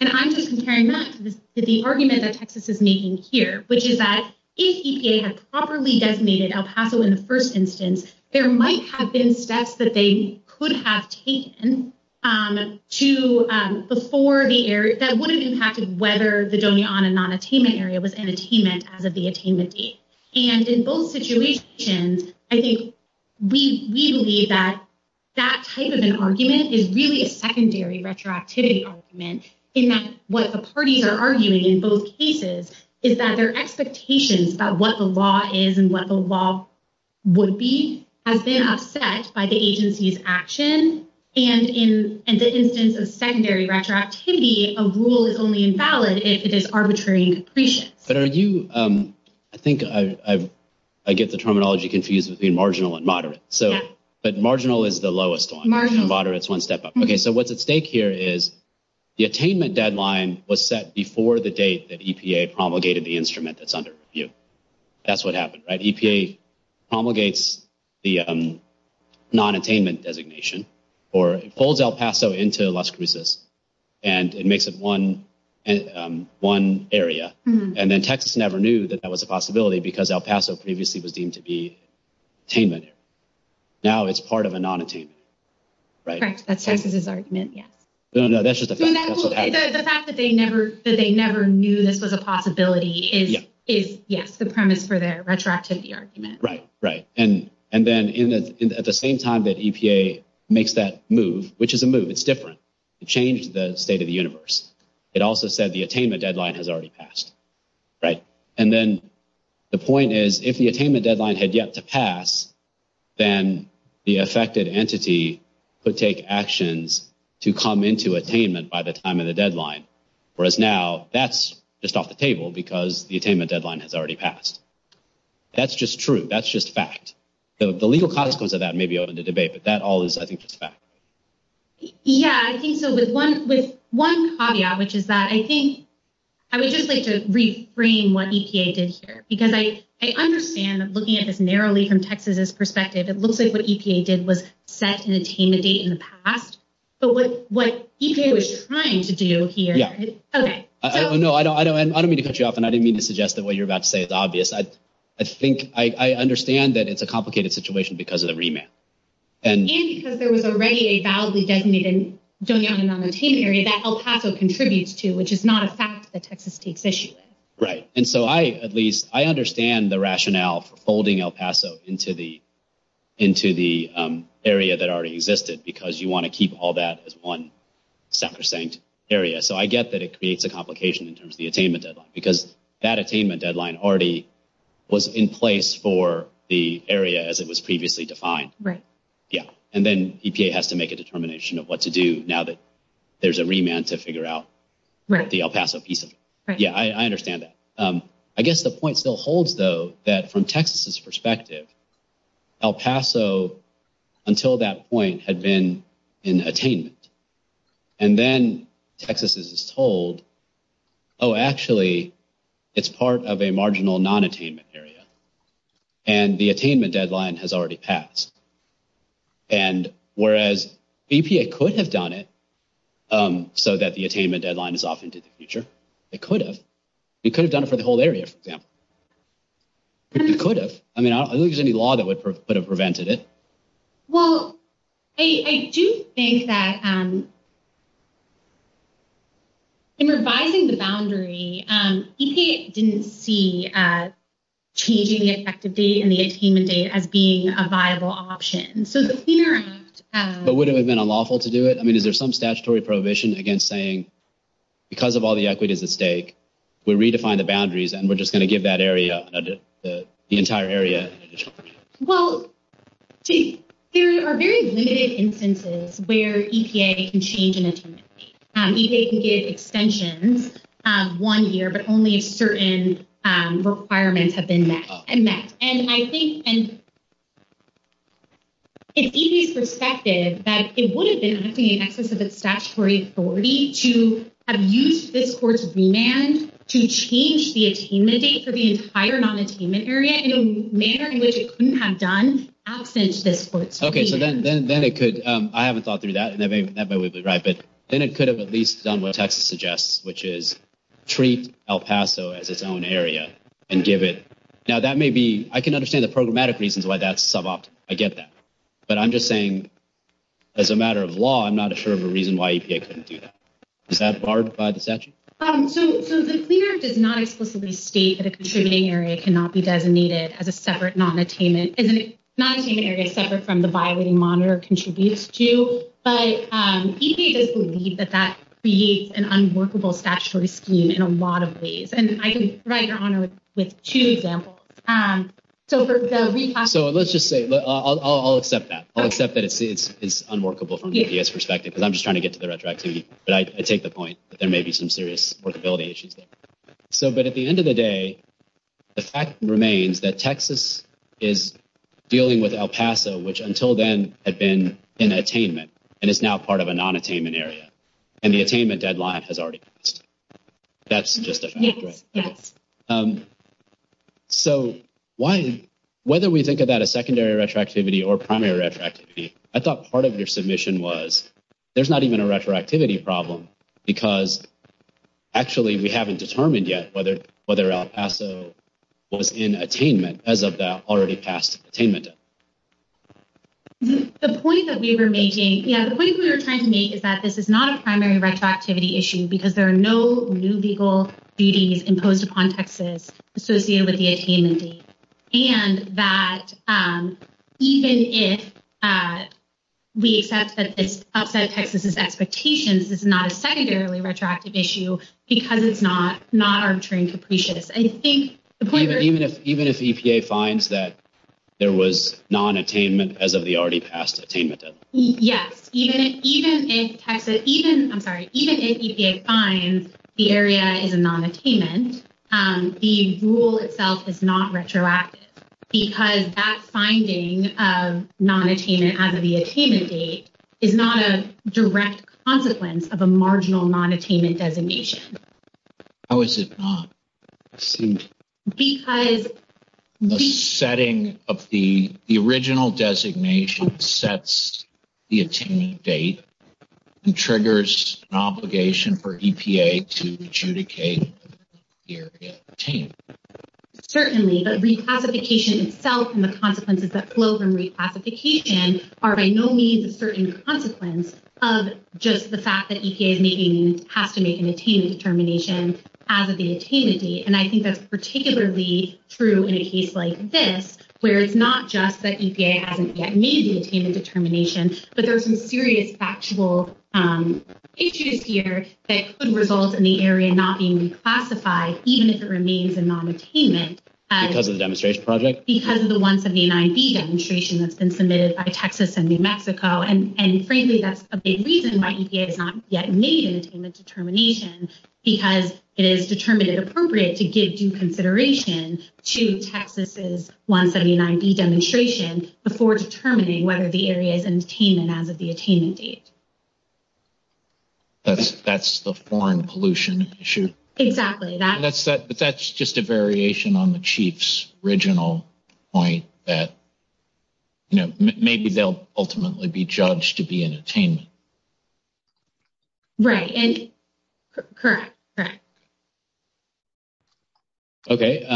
And I'm just comparing that to the argument that Texas is making here, which is that if in the first instance, there might have been steps that they could have taken before the area, that would have impacted whether the domain on a non-attainment area was an attainment as of the attainment date. And in both situations, I think we believe that that type of an argument is really a secondary retroactivity argument in that what the parties are arguing in both cases is that their expectations about what the law is and what the law would be have been upset by the agency's action. And in the instance of secondary retroactivity, a rule is only valid if it is arbitrary and depreciate. But are you, I think I get the terminology confused between marginal and moderate. So, but marginal is the lowest one. Moderate is one step up. Okay, so what's at stake here is the attainment deadline was set before the date that EPA promulgated the instrument that's under review. That's what happened, right? EPA promulgates the non-attainment designation or it pulls El Paso into Las Cruces and it makes it one area. And then Texas never knew that that was a possibility because El Paso previously was deemed to be attainment. Now it's part of a non-attainment, right? Correct. That's Texas' argument, yeah. No, no, that's just the fact that it's a possibility. It is, yeah, the premise for the retroactivity argument. Right, right. And then at the same time that EPA makes that move, which is a move, it's different. It changed the state of the universe. It also said the attainment deadline has already passed, right? And then the point is if the attainment deadline had yet to pass, then the affected entity could take actions to come into attainment by the time of the deadline. Whereas now that's just off the table because the attainment deadline has already passed. That's just true. That's just fact. So the legal context of that may be open to debate, but that all is, I think, just fact. Yeah, I think so. With one caveat, which is that I think I would just like to reframe what EPA did here because I understand looking at it narrowly from Texas' perspective, it looks like what EPA did was set an attainment date in the past. But what EPA was trying to do here is... Yeah. Okay. I don't know. I don't mean to cut you off, and I didn't mean to suggest that what you're about to say is obvious. I think I understand that it's a complicated situation because of the remand. And because there was already a validly designated Donald M. O. Martin area that El Paso contributes to, which is not a fact that Texas takes issue with. Right. And so I, at least, I understand the rationale for folding El Paso into the area that already existed because you want to keep all that as one sacrosanct area. So I get that it creates a complication in terms of the attainment deadline because that attainment deadline already was in place for the area as it was previously defined. Right. Yeah. And then EPA has to make a determination of what to do now that there's a remand to figure out the El Paso piece of it. Yeah, I understand that. I guess the point still holds, though, that from Texas' perspective, El Paso, until that point, had been in attainment. And then Texas is told, oh, actually, it's part of a marginal non-attainment area. And the attainment deadline has already passed. And whereas EPA could have done it so that the attainment deadline is off into the future, it could have. It could have done it for the whole area, for example. It could have. I mean, I don't think there's any law that would have prevented it. Well, I do think that in revising the boundary, EPA didn't see changing the effective date and the attainment date as being a viable option. So the fear of- But wouldn't it have been unlawful to do it? I mean, is there some statutory prohibition against saying, because of all the equities at stake, we redefine the boundaries and we're just going to give that area, the entire area? Well, there are very limited instances where EPA can change an attainment date. EPA can get extensions one year, but only if certain requirements have been met. And I think, in EPA's perspective, that it would have been an act of statutory authority to have used this court's remand to change the attainment date for the entire non-attainment area in a manner in which it couldn't have done outside of this court's remand. Okay, so then it could- I haven't thought through that, and that might be right, but then it could have at least done what Texas suggests, which is treat El Paso as its own area and give it- Now, that may be- I can understand the programmatic reasons why that's some option. I get that. But I'm just saying, as a matter of law, I'm not sure of a reason why EPA couldn't do that. Is that barred by the statute? So, the clearance does not explicitly state that a contributing area cannot be designated as a separate non-attainment. And the non-attainment area is separate from the byway the monitor contributes to. But EPA does believe that that creates an unworkable statutory scheme in a lot of ways. And I can provide your honor with two examples. So, let's just say- I'll accept that. I'll accept that it's unworkable from EPA's perspective, because I'm just trying to get to the retroactivity. But I take the point that there may be some serious workability issues there. So, but at the end of the day, the fact remains that Texas is dealing with El Paso, which until then had been an attainment, and it's now part of a non-attainment area. And the attainment deadline has already passed. That's just a- So, whether we think about a secondary retroactivity or primary retroactivity, I thought part of your submission was, there's not even a retroactivity problem. Because actually, we haven't determined yet whether El Paso was in attainment as of that already passed attainment. The point that we were making- yeah, the point we were trying to make is that this is not a primary retroactivity issue, because there are no new legal duties imposed upon Texas associated with the attainment date. And that even if we accept that it's outside of Texas' expectations, it's not a secondarily retroactive issue, because it's not arbitrary and capricious. I think the point that- Even if EPA finds that there was non-attainment as of the already passed attainment deadline. Yes. Even if Texas- I'm sorry, even if EPA finds the area is a non-attainment, the rule itself is not retroactive, because that finding of non-attainment as of the attainment date is not a direct consequence of a marginal non-attainment designation. How is it not? Because- The setting of the original designation sets the attainment date and triggers an obligation for EPA to adjudicate the area of attainment. Certainly, but reclassification itself and the consequences that flow from reclassification are by no means a certain consequence of just the fact that EPA has to make an attainment determination as of the attainment date. And I think that's particularly true in a case like this, where it's not just that EPA hasn't yet made the attainment determination, but there's some serious factual issues here that could result in the area not being reclassified, even if it remains a non-attainment- Because of the demonstration project? Because of the 179B demonstration that's been submitted by Texas and New Mexico. And frankly, that's a big reason why EPA has not yet made an attainment determination, because it is determined it appropriate to give due consideration to Texas' 179B demonstration before determining whether the area is in attainment as of the attainment date. But that's the foreign pollution issue? Exactly. But that's just a variation on the chief's original point that, you know, maybe they'll ultimately be judged to be in attainment. Right. Correct. Okay.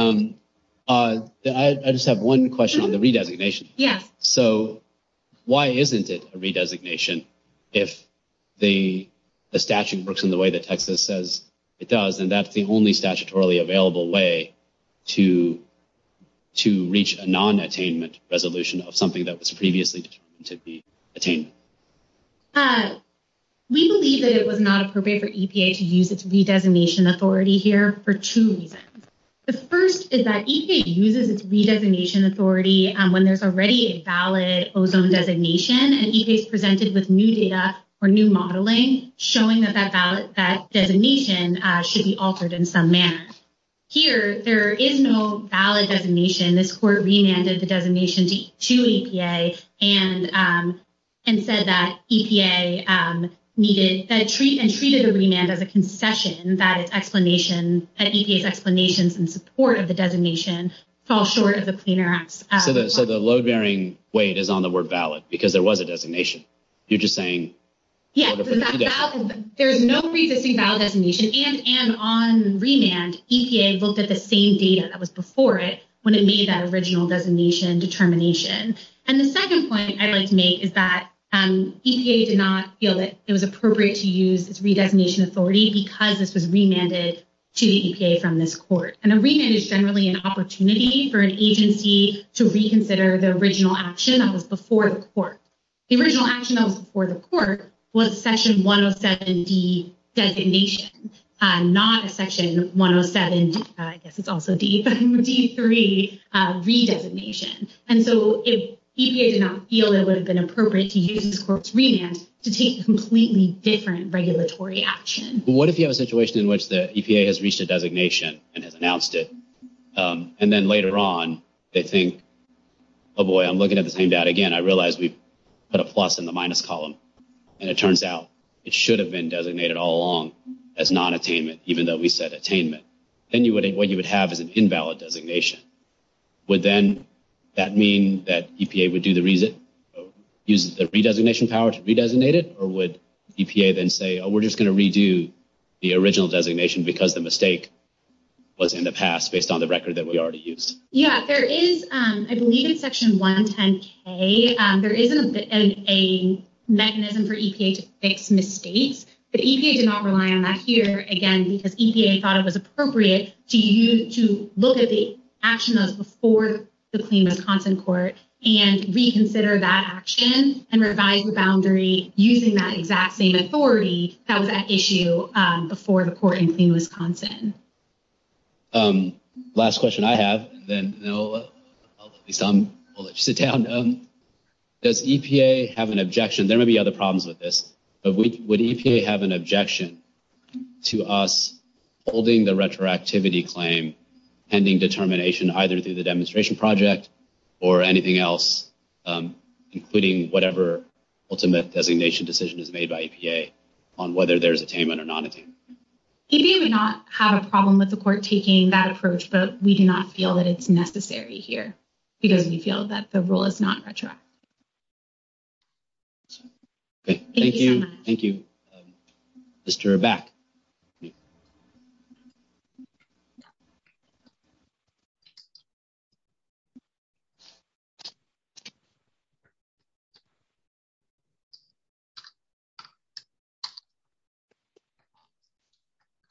I just have one question on the redesignation. Yeah. So why isn't it a redesignation? If the statute works in the way that Texas says it does, and that's the only statutorily available way to reach a non-attainment resolution of something that was previously to be attained? We believe that it was not appropriate for EPA to use its redesignation authority here for two reasons. The first is that EPA uses its redesignation authority when there's already a valid ozone designation, and EPA is presented with new data or new modeling showing that that validation should be altered in some manner. Here, there is no valid designation. This court remanded the designation to EPA and said that EPA needed and treated a remand as a concession, that EPA's explanations in support of the designation fall short of the plainer act. So the load-bearing weight is on the word valid because there was a designation. You're just saying... Yeah. There's no preexisting valid designation, and on remand, EPA looked at the same data that was before it when it made that original designation determination. And the second point I'd like to make is that EPA did not feel that it was appropriate to use its redefinition authority because this was remanded to the EPA from this court. A remand is generally an opportunity for an agency to reconsider the original action that was before the court. The original action that was before the court was section 107D designation, not section 107, I guess it's also D, but D3 redesignation. And so EPA did not feel it would have been appropriate to use the court's remand to take a completely different regulatory action. What if you have a situation in which the EPA has reached a designation and has announced it, and then later on they think, oh boy, I'm looking at the same data again. I realize we put a plus in the minus column, and it turns out it should have been designated all along as non-attainment, even though we said attainment. Then what you would have is an invalid designation. Would then that mean that EPA would do the... Use the redesignation power to redesignate it, or would EPA then say, oh, we're just going to redo the original designation because the mistake was in the past based on the record that we already used? Yeah, there is, I believe in section 110K, there is a mechanism for EPA to fix mistakes. The EPA did not rely on that here, again, because EPA thought it was appropriate to look at the action of before the CLEMA content court and reconsider that action and revise the boundary using that exact same authority of that issue before the court in Clem Wisconsin. Last question I have, then I'll let you sit down. Does EPA have an objection? There may be other problems with this, but would EPA have an objection to us holding the retroactivity claim pending determination either through the demonstration project or anything else, including whatever ultimate designation decision is made by EPA on whether there's attainment or non-attainment? EPA may not have a problem with the court taking that approach, but we do not feel that it's necessary here because we feel that the rule is not retroactive. Thank you. Thank you, Mr. Abbac.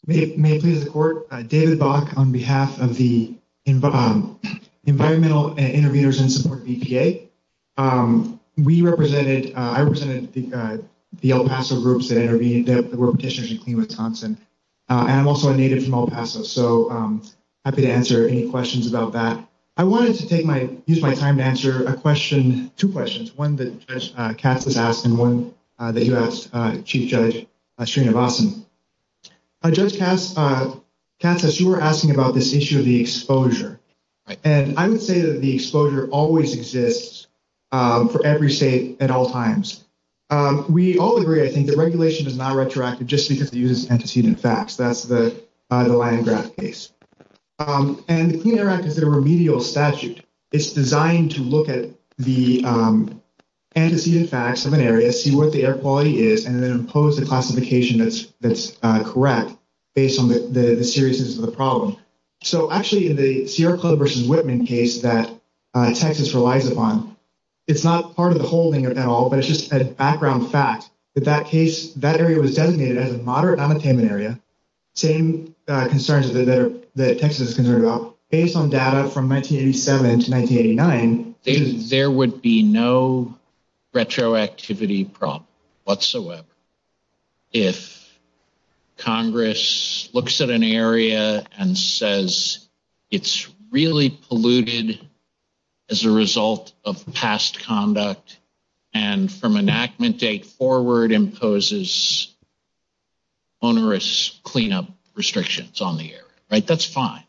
May it please the court, David Abbac on behalf of the Environmental and Intervenors in Support EPA. We represented, I represented the El Paso groups that were petitioners in Clem Wisconsin. I'm also a native from El Paso, so I'm happy to answer any questions about that. I wanted to take my, use my time to answer a question, two questions. One that Judge Cass has asked and one that you asked, Chief Judge Shirinavasan. Judge Cass, you were asking about this issue of the exposure, and I would say that the exposure always exists for every state at all times. We all agree, I think, that regulation is not retroactive just because it uses antecedent facts. That's the Leningrad case, and the Clean Air Act is a remedial statute. It's designed to look at the antecedent facts of an area, see what the air quality is, and then impose the classification that's correct based on the seriousness of the problem. Actually, in the Sierra Club versus Whitman case that Texas relies upon, it's not part of the whole thing at all, but it's just a background fact that that case, that area was designated as a moderate unattainment area, same concerns that Texas is concerned about. Based on data from 1987 to 1989, there would be no retroactivity problem whatsoever if Congress looks at an area and says it's really polluted as a result of past conduct and from onerous cleanup restrictions on the area, right? That's fine,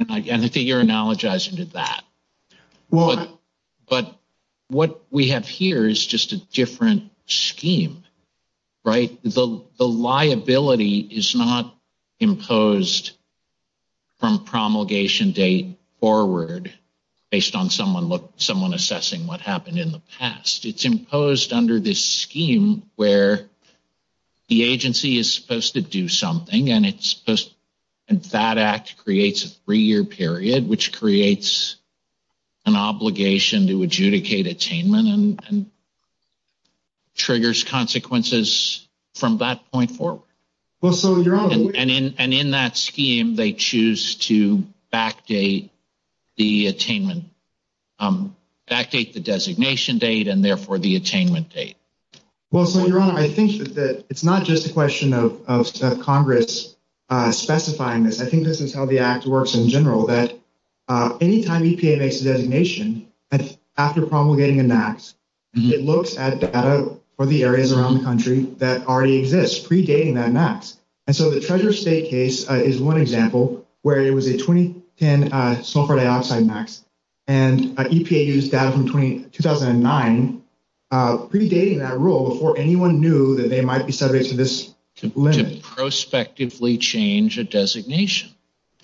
and I think you're analogizing to that, but what we have here is just a different scheme, right? The liability is not imposed from promulgation date forward based on someone assessing what happened in the past. It's imposed under this scheme where the agency is supposed to do something, and that act creates a three-year period, which creates an obligation to adjudicate attainment and triggers consequences from that point forward. And in that scheme, they choose to backdate the attainment, backdate the designation date, and therefore the attainment date. Well, so, Your Honor, I think that it's not just a question of Congress specifying this. I think this is how the act works in general, that anytime EPA makes a designation, after promulgating an act, it looks at data for the areas around the country that already exist, predating that act. And so the Treasure State case is one example where it was a 2010 sulfur dioxide act, and predating that rule before anyone knew that they might be subject to this limit. To prospectively change a designation.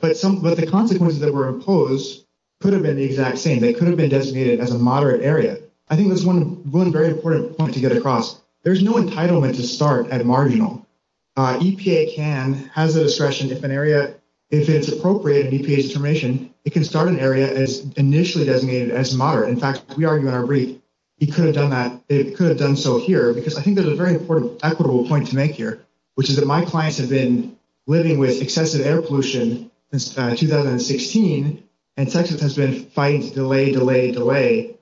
But the consequences that were imposed could have been the exact same. They could have been designated as a moderate area. I think that's one very important point to get across. There's no entitlement to start at marginal. EPA can have the discretion if an area, if it's appropriate in EPA's determination, it can start an area as initially designated as moderate. In fact, we argue in our brief. It could have done that. It could have done so here, because I think there's a very important equitable point to make here, which is that my clients have been living with excessive air pollution since 2016, and Texas has been fighting to delay, delay, delay.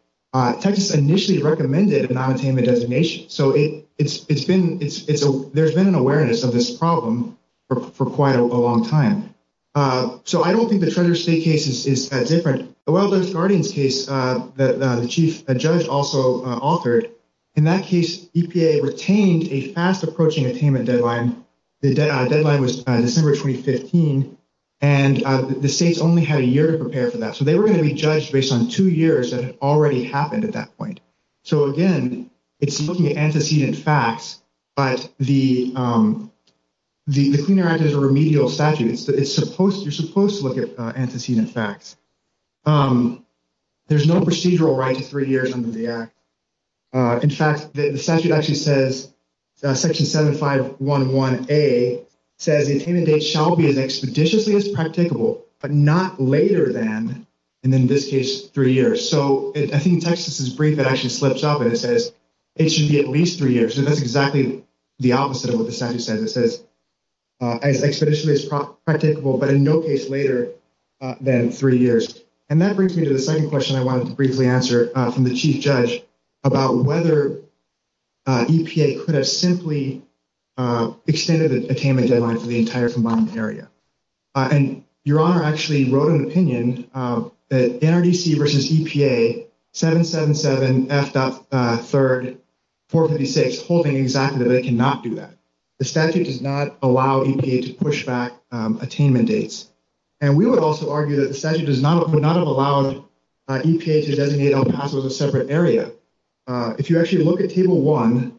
Texas initially recommended a non-attainment designation. So there's been an awareness of this problem for quite a long time. So I don't think the Treasure State case is that different. The Wilderness Guardians case that the chief judge also authored, in that case, EPA retained a fast approaching attainment deadline. The deadline was December 2015, and the states only had a year to prepare for that. So they were going to be judged based on two years that had already happened at that point. So again, it's looking at antecedent facts, but the Clean Air Act is a remedial statute. You're supposed to look at antecedent facts. There's no procedural right to three years under the act. In fact, the statute actually says, Section 7511A says, a candidate shall be as expeditiously as practicable, but not later than, and in this case, three years. So I think in Texas' brief, it actually slips up, and it says it should be at least three years. So that's exactly the opposite of what the statute says. It says as expeditiously as practicable, but in no case later than three years. And that brings me to the second question I wanted to briefly answer from the chief judge about whether EPA could have simply extended the attainment deadline for the entire combined area. And Your Honor actually wrote an opinion that NRDC versus EPA, 777F.3, 456, holding exactly that they cannot do that. The statute does not allow EPA to push back attainment dates. And we would also argue that the statute would not have allowed EPA to designate El Paso as a separate area. If you actually look at Table 1,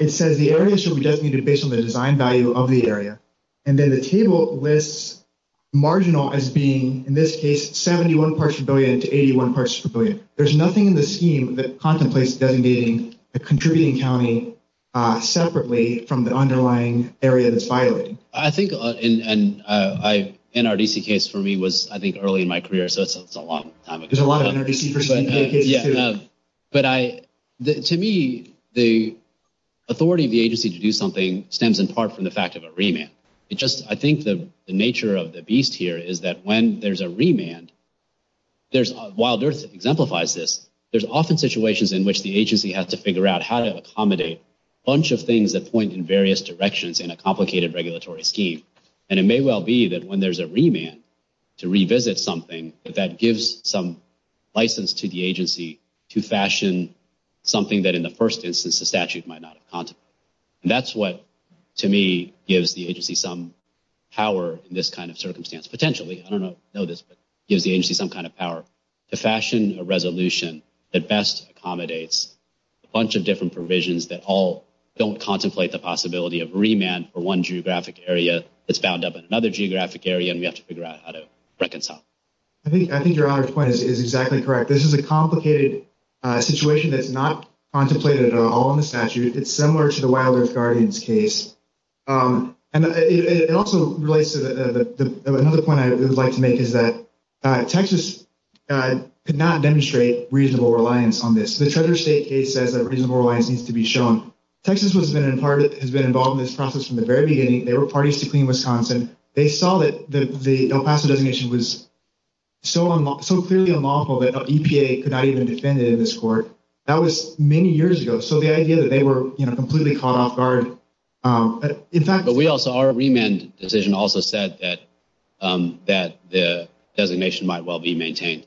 it says the area shall be designated based on the design value of the area. And then the table lists marginal as being, in this case, 71 parts per billion to 81 parts per billion. There's nothing in the scheme that contemplates designating a contributing county separately from the underlying area that's violated. I think NRDC case for me was, I think, early in my career. So it's a long time ago. There's a lot of NRDC versus EPA cases. But to me, the authority of the agency to do something stems in part from the fact of a remand. I think the nature of the beast here is that when there's a remand, while DIRSA exemplifies this, there's often situations in which the agency has to figure out how to accommodate a bunch of things that point in various directions in a complicated regulatory scheme. And it may well be that when there's a remand to revisit something, that that gives some license to the agency to fashion something that, in the first instance, the statute might not have contemplated. And that's what, to me, gives the agency some power in this kind of circumstance. Potentially, I don't know this, but it gives the agency some kind of power to fashion a don't contemplate the possibility of remand for one geographic area that's bound up in another geographic area, and we have to figure out how to reconcile. I think your honor's point is exactly correct. This is a complicated situation that's not contemplated at all in the statute. It's similar to the wildlife guardians case. And it also relates to another point I would like to make is that Texas could not demonstrate reasonable reliance on this. The Treasurer's State case says that reasonable reliance needs to be shown. Texas has been involved in this process from the very beginning. They were parties to Clean Wisconsin. They saw that the El Paso designation was so clearly unlawful that EPA could not even defend it in this court. That was many years ago. So the idea that they were completely caught off guard, in fact... But we also, our remand decision also said that the designation might well be maintained.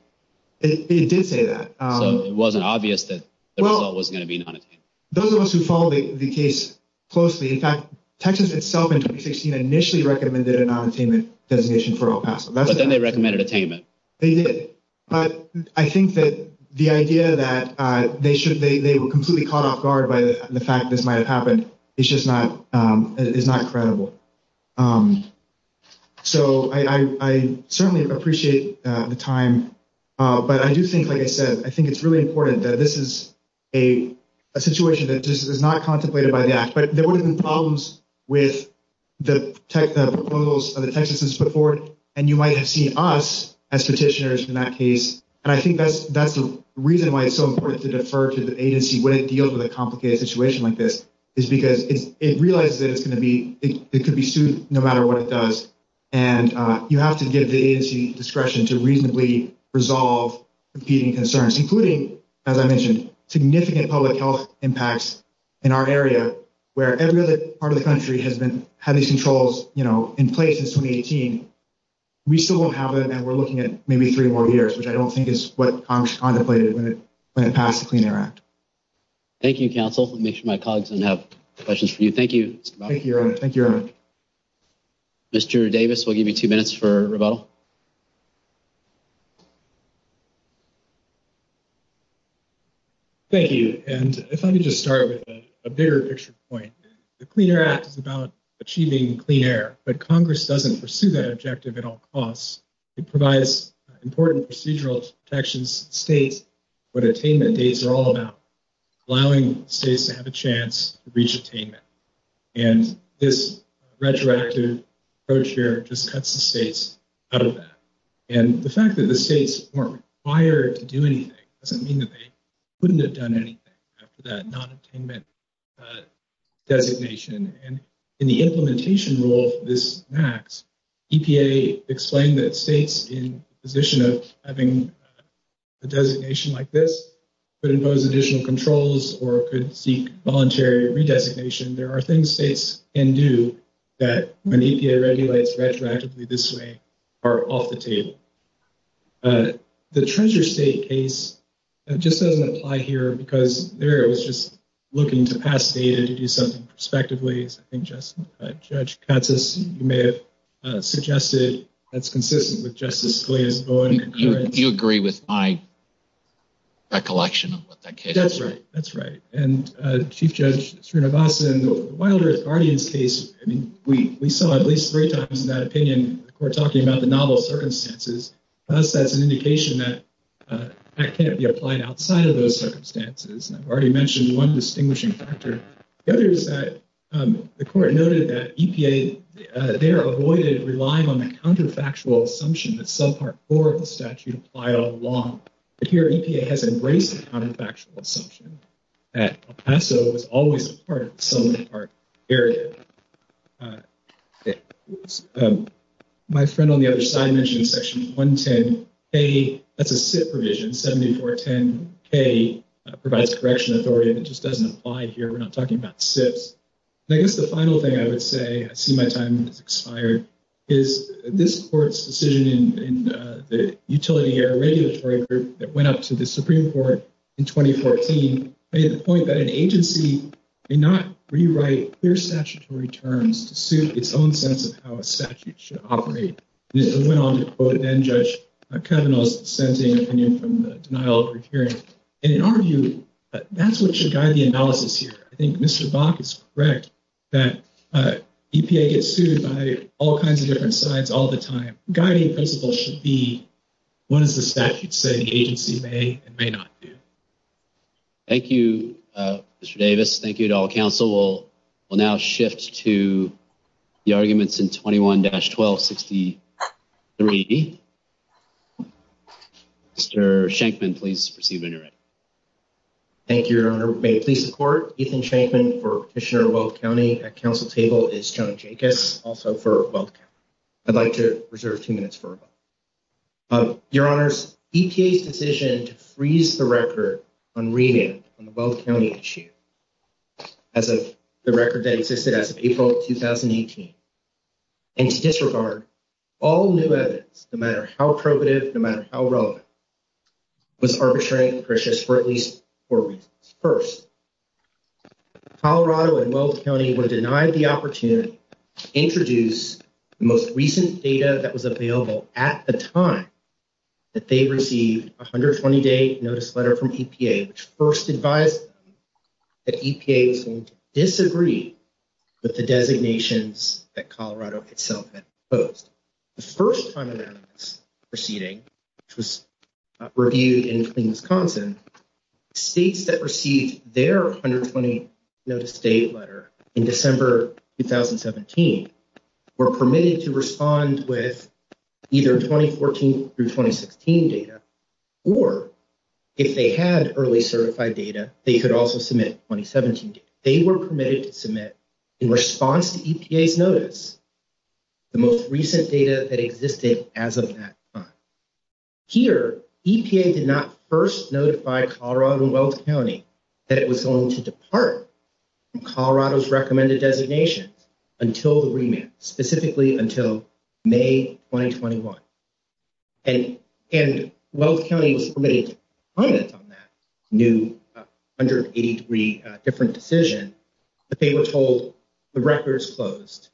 It did say that. It wasn't obvious that the result was going to be nonattainment. Those of us who follow the case closely, in fact, Texas itself in 2016 initially recommended a nonattainment designation for El Paso. But then they recommended attainment. They did. But I think that the idea that they were completely caught off guard by the fact this might have happened is just not credible. So I certainly appreciate the time. But I do think, like I said, I think it's really important that this is a situation that just is not contemplated by the act. But there would have been problems with the proposals of the Texas case before. And you might have seen us as petitioners in that case. And I think that's the reason why it's so important to defer to the agency when it deals with a complicated situation like this, is because it realized that it could be sued no matter what it does. And you have to give the agency discretion to reasonably resolve competing concerns, including, as I mentioned, significant public health impacts in our area, where every other part of the country has been having some controls in place since 2018. We still don't have them. And we're looking at maybe three more years, which I don't think is what Congress contemplated when it passed the Clean Air Act. Thank you, counsel. I'll make sure my colleagues don't have questions for you. Thank you. Thank you, Erwin. Thank you, Erwin. Mr. Davis, we'll give you two minutes for Ravel. Thank you. And if I could just start with a bigger picture point. The Clean Air Act is about achieving clean air. But Congress doesn't pursue that objective at all costs. It provides important procedural protections to the state, what attainment days are all about, allowing states to have a chance to reach attainment. And this retroactive approach here just cuts the states out of that. And the fact that the states aren't required to do anything doesn't mean that they couldn't have done anything after that non-attainment designation. And in the implementation rule of this act, EPA explained that states in a position of having a designation like this could impose additional controls or could seek voluntary redesignation. There are things states can do that when EPA regulates retroactively this way are off the table. The Treasure State case just doesn't apply here because there it was just looking to pass data to do something perspective ways. I think, Judge Katsas, you may have suggested that's consistent with Justice Scalia's ruling. You agree with my recollection of what that case is? That's right. That's right. And Chief Judge Srinivasan, in the Wilder-Guardian case, I mean, we saw at least three times in that opinion the court talking about the novel circumstances. To us, that's an indication that that can't be applied outside of those circumstances. And I've already mentioned one distinguishing factor. The other is that the court noted that EPA there avoided relying on the counterfactual assumption that subpart four of the statute applied all along. Here, EPA has embraced the counterfactual assumption that El Paso was always part of the Selma Park area. My friend on the other side mentioned Section 110A, that's a SIP provision, 7410A, provides a correction authority. It just doesn't apply here. We're not talking about SIPs. I guess the final thing I would say, I see my time has expired, is this court's decision in the utility air regulatory group that went up to the Supreme Court in 2014 made the point that an agency did not rewrite clear statutory terms to suit its own sense of how a statute should operate. It went on to quote then-Judge Kavanaugh's sentencing opinion from the denial of a hearing. And in our view, that's what should guide the analysis here. I think Mr. Bach is correct that EPA gets sued by all kinds of different sides all the time. Guiding principles should be what does the statute say the agency may and may not do. Thank you, Mr. Davis. Thank you to all counsel. We'll now shift to the arguments in 21-1263. Mr. Shankman, please proceed when you're ready. Thank you, Your Honor. May it please the court. Ethan Shankman for Commissioner of Guelph County. At counsel's table is John Jacobs, also for Guelph County. I'd like to reserve two minutes for him. Your Honor, EPA's decision to freeze the record on renaming Guelph County as of the record that existed as of April of 2018. And to disregard all new evidence, no matter how probative, no matter how relevant, was arbitrary and pernicious for at least four reasons. First, Colorado and Guelph County were denied the opportunity to introduce the most recent data that was available at the time that they received a 120-day notice letter from EPA, which first advised them that EPA seemed to disagree with the designations that Colorado itself had proposed. The first time that was proceeding, which was reviewed in Wisconsin, states that received their 120-day notice letter in December of 2017 were permitted to respond with either 2014 through 2016 data, or if they had early certified data, they could also submit 2017 data. They were permitted to submit in response to EPA's notice. The most recent data that existed as of that time. Here, EPA did not first notify Colorado and Guelph County that it was going to depart from Colorado's recommended designations until the remand, specifically until May 2021. And Guelph County was permitted to comment on that new 183 different decision, but they were told the record is closed.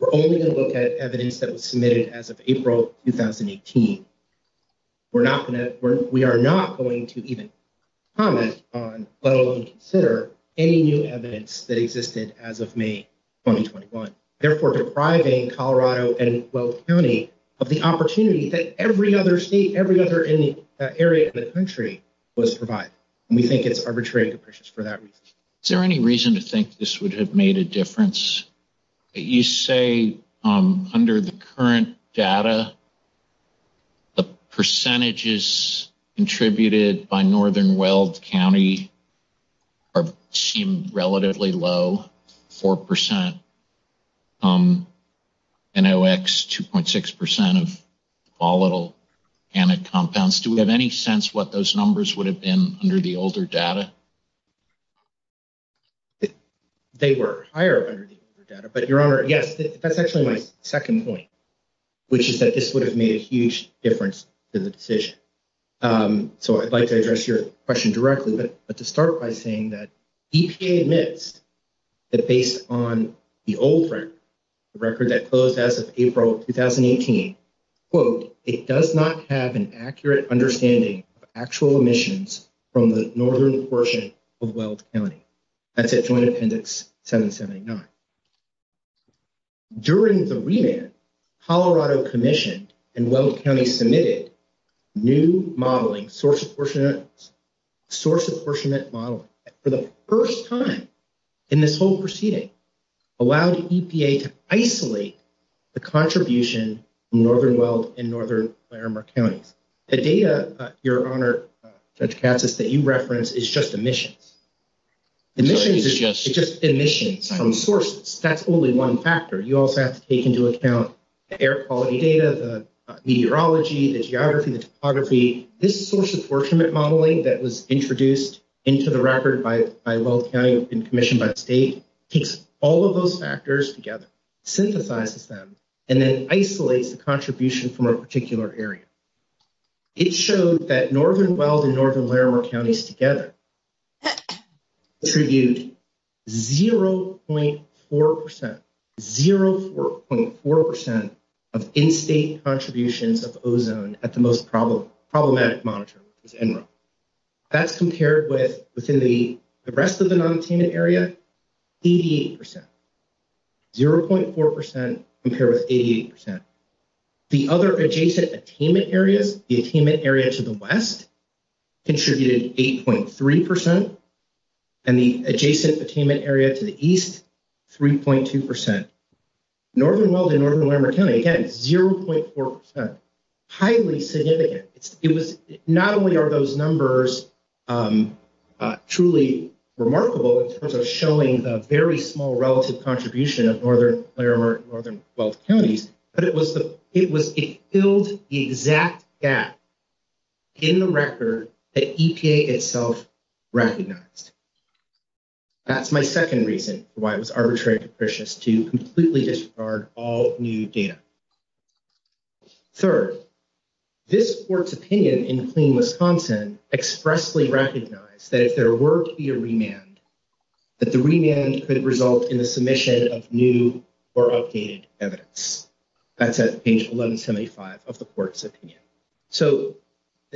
We're only going to look at evidence that was submitted as of April 2018. We are not going to even comment on, let alone consider, any new evidence that existed as of May 2021. Therefore, depriving Colorado and Guelph County of the opportunity that every other state, every other area of the country was provided. And we think it's arbitrary to purchase for that reason. Is there any reason to think this would have made a difference? You say, under the current data, the percentages contributed by northern Guelph County seem relatively low. Four percent NOx, 2.6 percent of volatile organic compounds. Do we have any sense what those numbers would have been under the older data? They were higher under the older data, but Your Honor, yes, that's actually my second point, which is that this would have made a huge difference to the decision. So I'd like to address your question directly, but to start by saying that EPA admits that based on the old record that closed as of April 2018, quote, it does not have an accurate understanding of actual emissions from the northern portion of Guelph County. That's at Joint Appendix 779. During the remand, Colorado Commission and Guelph County submitted new modeling, source apportionment, source apportionment modeling. For the first time in this whole proceeding, allows EPA to isolate the contribution from northern Guelph and northern Claremont County. The data, Your Honor, that you referenced is just emissions. Emissions is just emissions from sources. That's only one factor. You also have to take into account the air quality data, the meteorology, the geography, the topography. This source apportionment modeling that was introduced into the record by Guelph County and commissioned by the state keeps all of those factors together, synthesizes them, and then isolates the contribution from a particular area. It showed that northern Guelph and northern Claremont Counties together contribute 0.4%, 0.4% of in-state contributions of ozone at the most problematic monitor in general. That's compared with within the rest of the non-attainment area, 88%. 0.4% compared with 88%. The other adjacent attainment areas, the attainment area to the west, contributed 8.3%, and the adjacent attainment area to the east, 3.2%. Northern Guelph and northern Claremont County, again, 0.4%, highly significant. Not only are those numbers truly remarkable in terms of showing the very small relative contribution of northern Claremont and northern Guelph Counties, but it killed the exact gap in the record that EPA itself recognized. That's my second reason why it was arbitrary and capricious to completely discard all new data. Third, this court's opinion in Clean Wisconsin expressly recognized that if there were to be remand, that the remand could result in a submission of new or updated evidence. That's at page 1175 of the court's opinion. So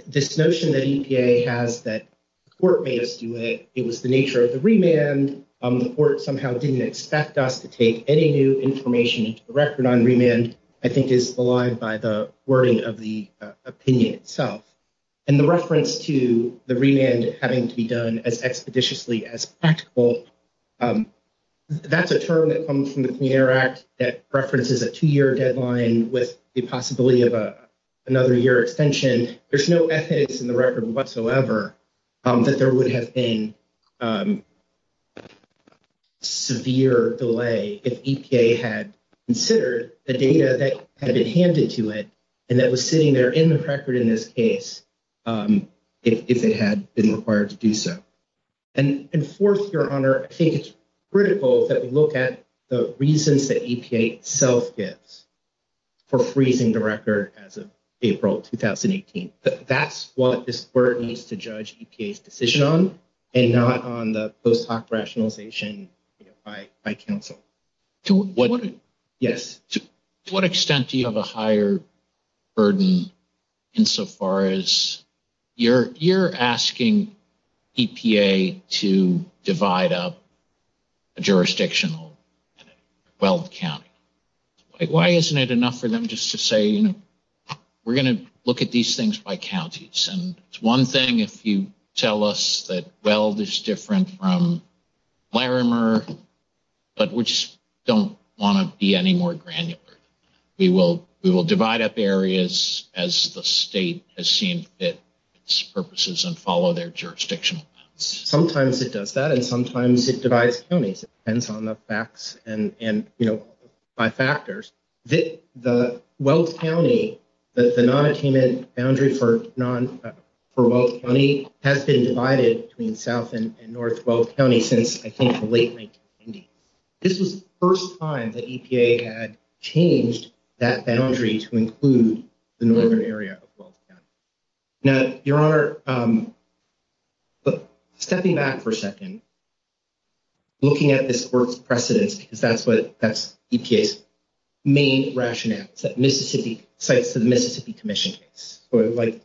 this notion that EPA has that the court may assume that it was the nature of the remand, the court somehow didn't expect us to take any new information into the record on remand, I think is belied by the wording of the opinion itself. And the reference to the remand having to be done as expeditiously as practical, that's a term that comes from the Clean Air Act that references a two-year deadline with the possibility of another year extension. There's no ethics in the record whatsoever that there would have been severe delay if EPA had considered the data that had been handed to it and that was sitting there in the record in this case, if it had been required to do so. And fourth, Your Honor, I think it's critical that we look at the reasons that EPA itself gets for freezing the record as of April 2018. But that's what this court needs to judge EPA's decision on and not on the post hoc rationalization by counsel. To what extent do you have a higher burden insofar as you're asking EPA to divide up a jurisdictional weld count? Why isn't it enough for them just to say, we're going to look at these things by counties? And it's one thing if you tell us that weld is different from Irma, but we just don't want to be any more granular. We will divide up areas as the state has seen fit for its purposes and follow their jurisdictional boundaries. Sometimes it does that and sometimes it divides counties. It depends on the facts and, you know, by factors. The Weld County, the non-attainment boundary for Weld County has been divided between South and North Weld County since, I think, the late 1990s. This is the first time that EPA had changed that boundary to include the northern area. Now, Your Honor, stepping back for a second, looking at this court's precedent, because that's what that's EPA's main rationale to the Mississippi Commission case. But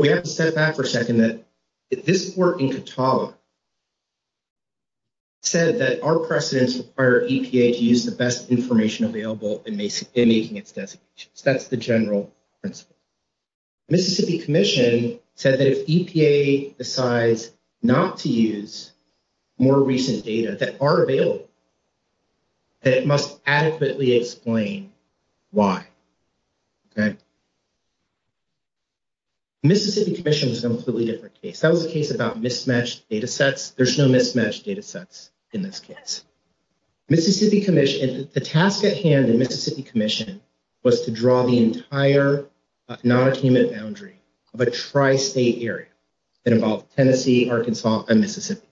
we have to step back for a second that this court in Katala said that our precedents require EPA to use the best information available in making its decision. That's the general principle. Mississippi Commission said that if EPA decides not to use more recent data that are available, that it must adequately explain why. Okay. Mississippi Commission was an absolutely different case. That was a case about mismatched data sets. There's no mismatched data sets in this case. Mississippi Commission, the task at hand in Mississippi Commission was to draw the entire non-attainment boundary of a tri-state area that involved Tennessee, Arkansas, and Mississippi.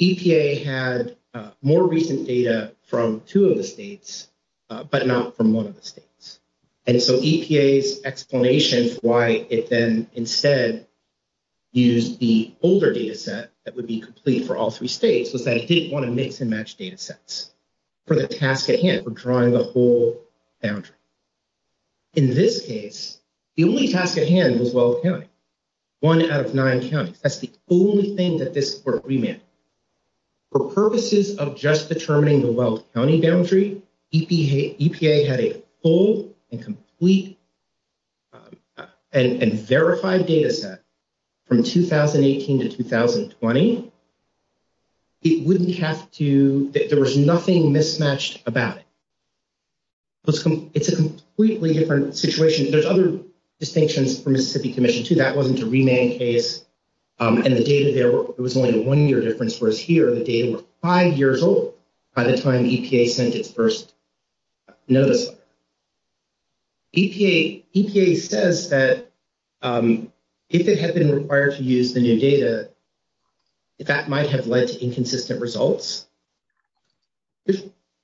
EPA had more recent data from two of the states, but not from one of the states. And so EPA's explanation why it then instead used the older data set that would be complete for all three states was that it didn't want to mix and match data sets for the task at hand, for drawing the whole boundary. In this case, the only task at hand was Welles County, one out of nine counties. That's the only thing that this court remanded. For purposes of just determining the Welles County boundary, EPA had a whole and complete and verified data set from 2018 to 2020. It wouldn't have to, there was nothing mismatched about it. It's a completely different situation. There's other distinctions from Mississippi Commission too. That wasn't a remand case. And the data there, it was only a one-year difference, whereas here the data was five years old by the time EPA sent its first notice. EPA says that if it had been required to use the new data, that might have led to inconsistent results.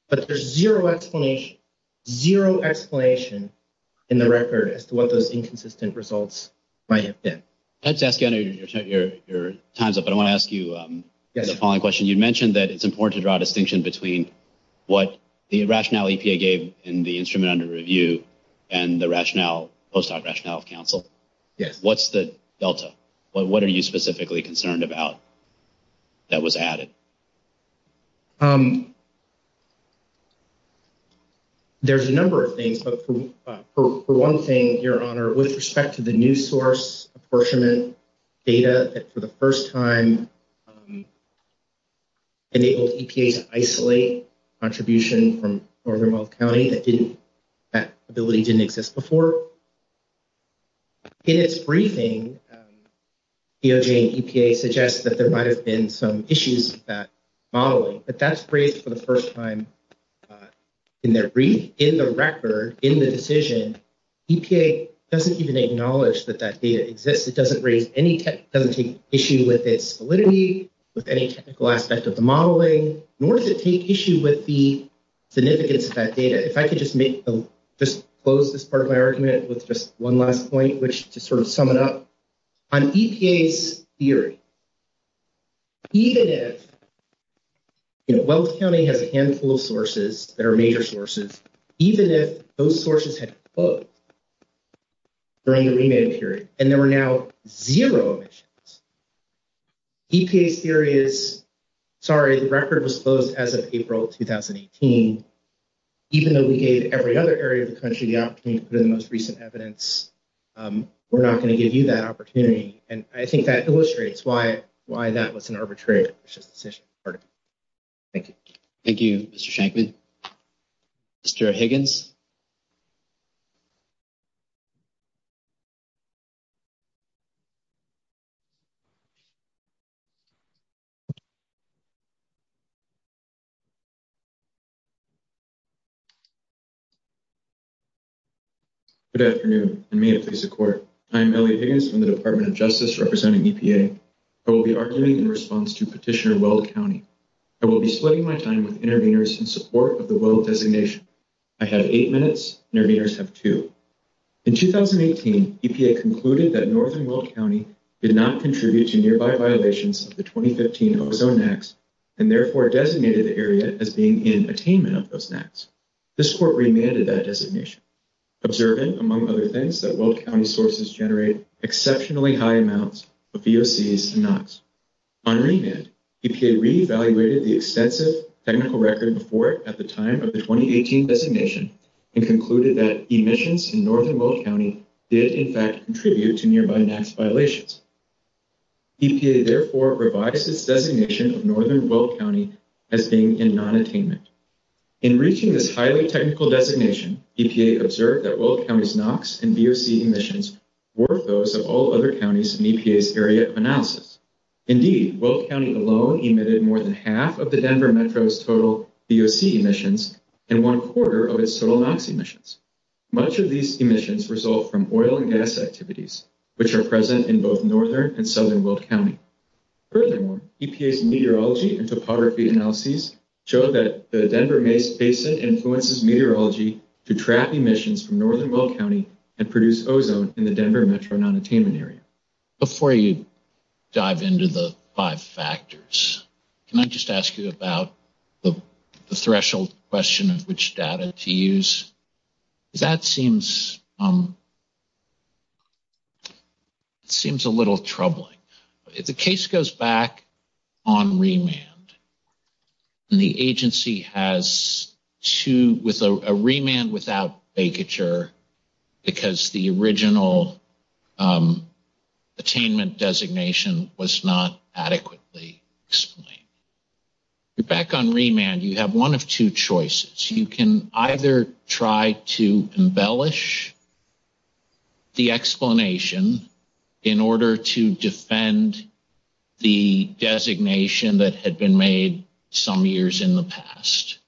But there's zero explanation, zero explanation in the record as to what those inconsistent results might have been. Let's ask you under your time's up. I want to ask you the following question. You mentioned that it's important to draw a distinction between what the rationale EPA gave in the instrument under review and the rationale, post-hoc rationale of counsel. What's the delta? What are you specifically concerned about that was added? There's a number of things. But for one thing, your honor, with respect to the new source apportionment data that for the first time enabled EPA to isolate contribution from Northern Well County, that didn't, that ability didn't exist before. In its briefing, DOJ and EPA suggest that there might have been some issues modeling, but that's great for the first time in their brief, in the record, in the decision. EPA doesn't even acknowledge that that data exists. It doesn't raise any, doesn't take issue with its validity, with any technical aspects of the modeling, nor does it take issue with the significance of that data. If I could just make, just close this part of my argument with just one last point, which just sort of sum it up. On EPA's theory, even if, you know, Well County has a handful of sources that are major sources, even if those sources had closed during the remand period, and there were now zero emissions, EPA's theory is, sorry, the record was closed as of April 2018. Even though we gave every other area of the country the opportunity for the most recent evidence, we're not going to give you that opportunity. And I think that illustrates why that was an arbitrary decision. Thank you. Thank you, Mr. Shankman. Mr. Higgins. Good afternoon, and may it please the court. I'm Elliot Higgins from the Department of Justice representing EPA. I will be arguing in response to Petitioner Well County. I will be splitting my time with interveners in support of the Well designation. I had eight minutes, interveners have two. In 2018, EPA concluded that Northern Well County did not contribute to nearby violations of the 2015 Oklahoma acts, and therefore designated the area as being in attainment of those acts. This court remanded that designation, observing, among other things, that Well County sources generate exceptionally high amounts of VOCs and NOCs. On remand, EPA re-evaluated the extensive technical record report at the time of the 2018 designation, and concluded that emissions in Northern Well County did in fact contribute to nearby NOCs violations. EPA therefore revised its designation of Northern Well County as being in non-attainment. In reaching this highly technical designation, EPA observed that Well County's NOCs and VOC emissions were those of all other counties in EPA's area analysis. Indeed, Well County alone emitted more than half of the Denver Metro's VOC emissions, and one quarter of its NOCs emissions. Much of these emissions result from oil and gas activities, which are present in both Northern and Southern Well County. Furthermore, EPA's meteorology and topography analyses show that the Denver Mesa influences meteorology to trap emissions from Northern Well County and produce ozone in the Denver Metro non-attainment area. Before you dive into the five factors, can I just ask you about the threshold question in which data to use? That seems a little troubling. The case goes back on remand, and the agency has a remand without vacature because the original attainment designation was not adequately explained. Back on remand, you have one of two choices. You can either try to embellish the explanation in order to defend the designation that had been made some years in the past,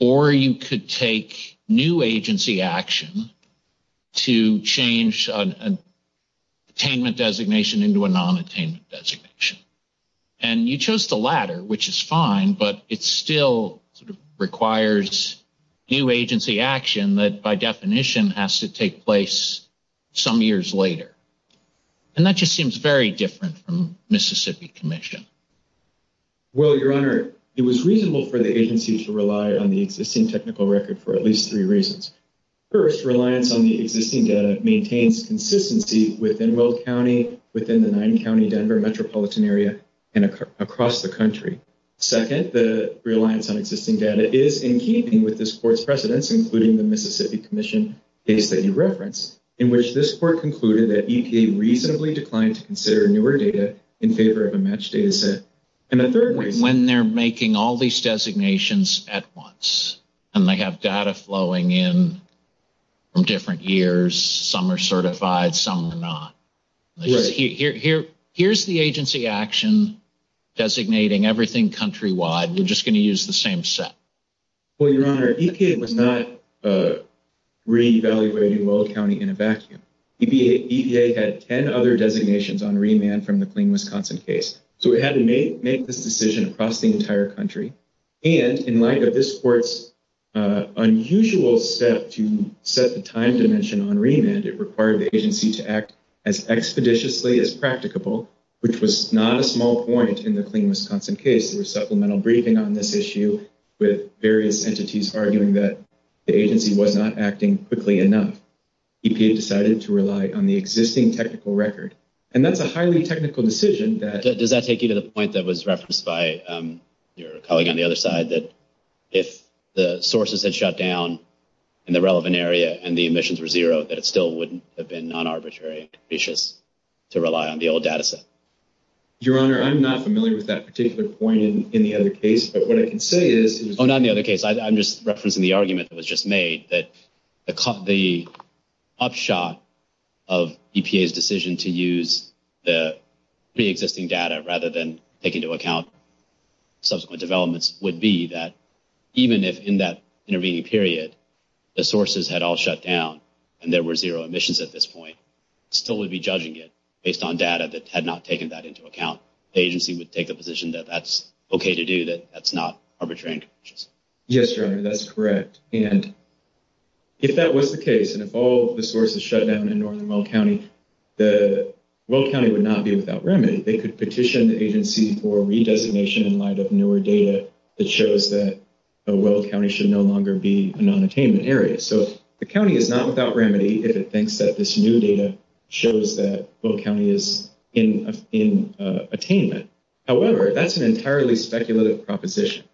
or you could take new agency action to change an attainment designation into a non-attainment designation. You chose the latter, which is fine, but it still requires new agency action that by definition has to take place some years later. That just seems very different from Mississippi Commission. Well, Your Honor, it was reasonable for the agency to rely on the existing technical record for at least three reasons. First, reliance on the existing data maintains consistency within Roe County, within the nine-county Denver metropolitan area, and across the country. Second, the reliance on existing data is in keeping with this court's precedents, including the Mississippi Commission case that you referenced, in which this court concluded that EPA reasonably declined to consider newer data in favor of a matched data set. And the third reason... When they're making all these designations at once and they have data flowing in from different years, some are certified, some are not. Here's the agency action designating everything countrywide. We're just going to use the same set. Well, Your Honor, EPA was not reevaluating Roe County in a vacuum. EPA had 10 other designations on remand from the Clean Wisconsin case. So it had to make this decision across the entire country. And in light of this court's unusual set to set the time dimension on remand, it required the agency to act as expeditiously as practicable, which was not a small point in the Clean Wisconsin case. There was supplemental briefing on this issue with various entities arguing that the agency was not acting quickly enough. EPA decided to rely on the existing technical record. And that's a highly technical decision that... Does that take you to the point that was referenced by your colleague on the other side, that if the sources had shut down in the relevant area and the emissions were zero, that it still wouldn't have been non-arbitrary and capricious to rely on the old data set? Your Honor, I'm not familiar with that particular point in the other case, but what I can say is... Oh, not in the other case. I'm just referencing the argument that was just made that the upshot of EPA's decision to use the pre-existing data rather than take into account subsequent developments would be that even if in that intervening period, the sources had all shut down and there were zero emissions at this point, still we'd be judging it based on data that had not taken that into account. The agency would take a position that that's okay to do, that that's not arbitrary and capricious. Yes, Your Honor, that's correct. And if that was the case, and if all the sources shut down in Northern Will County, the Will County would not be without remedy. They could petition the agency for a redesignation in light of newer data that shows that Will County should no longer be a non-attainment area. So the county is not without remedy if it thinks that this new data shows that Will County is in attainment. However, that's an entirely speculative proposition.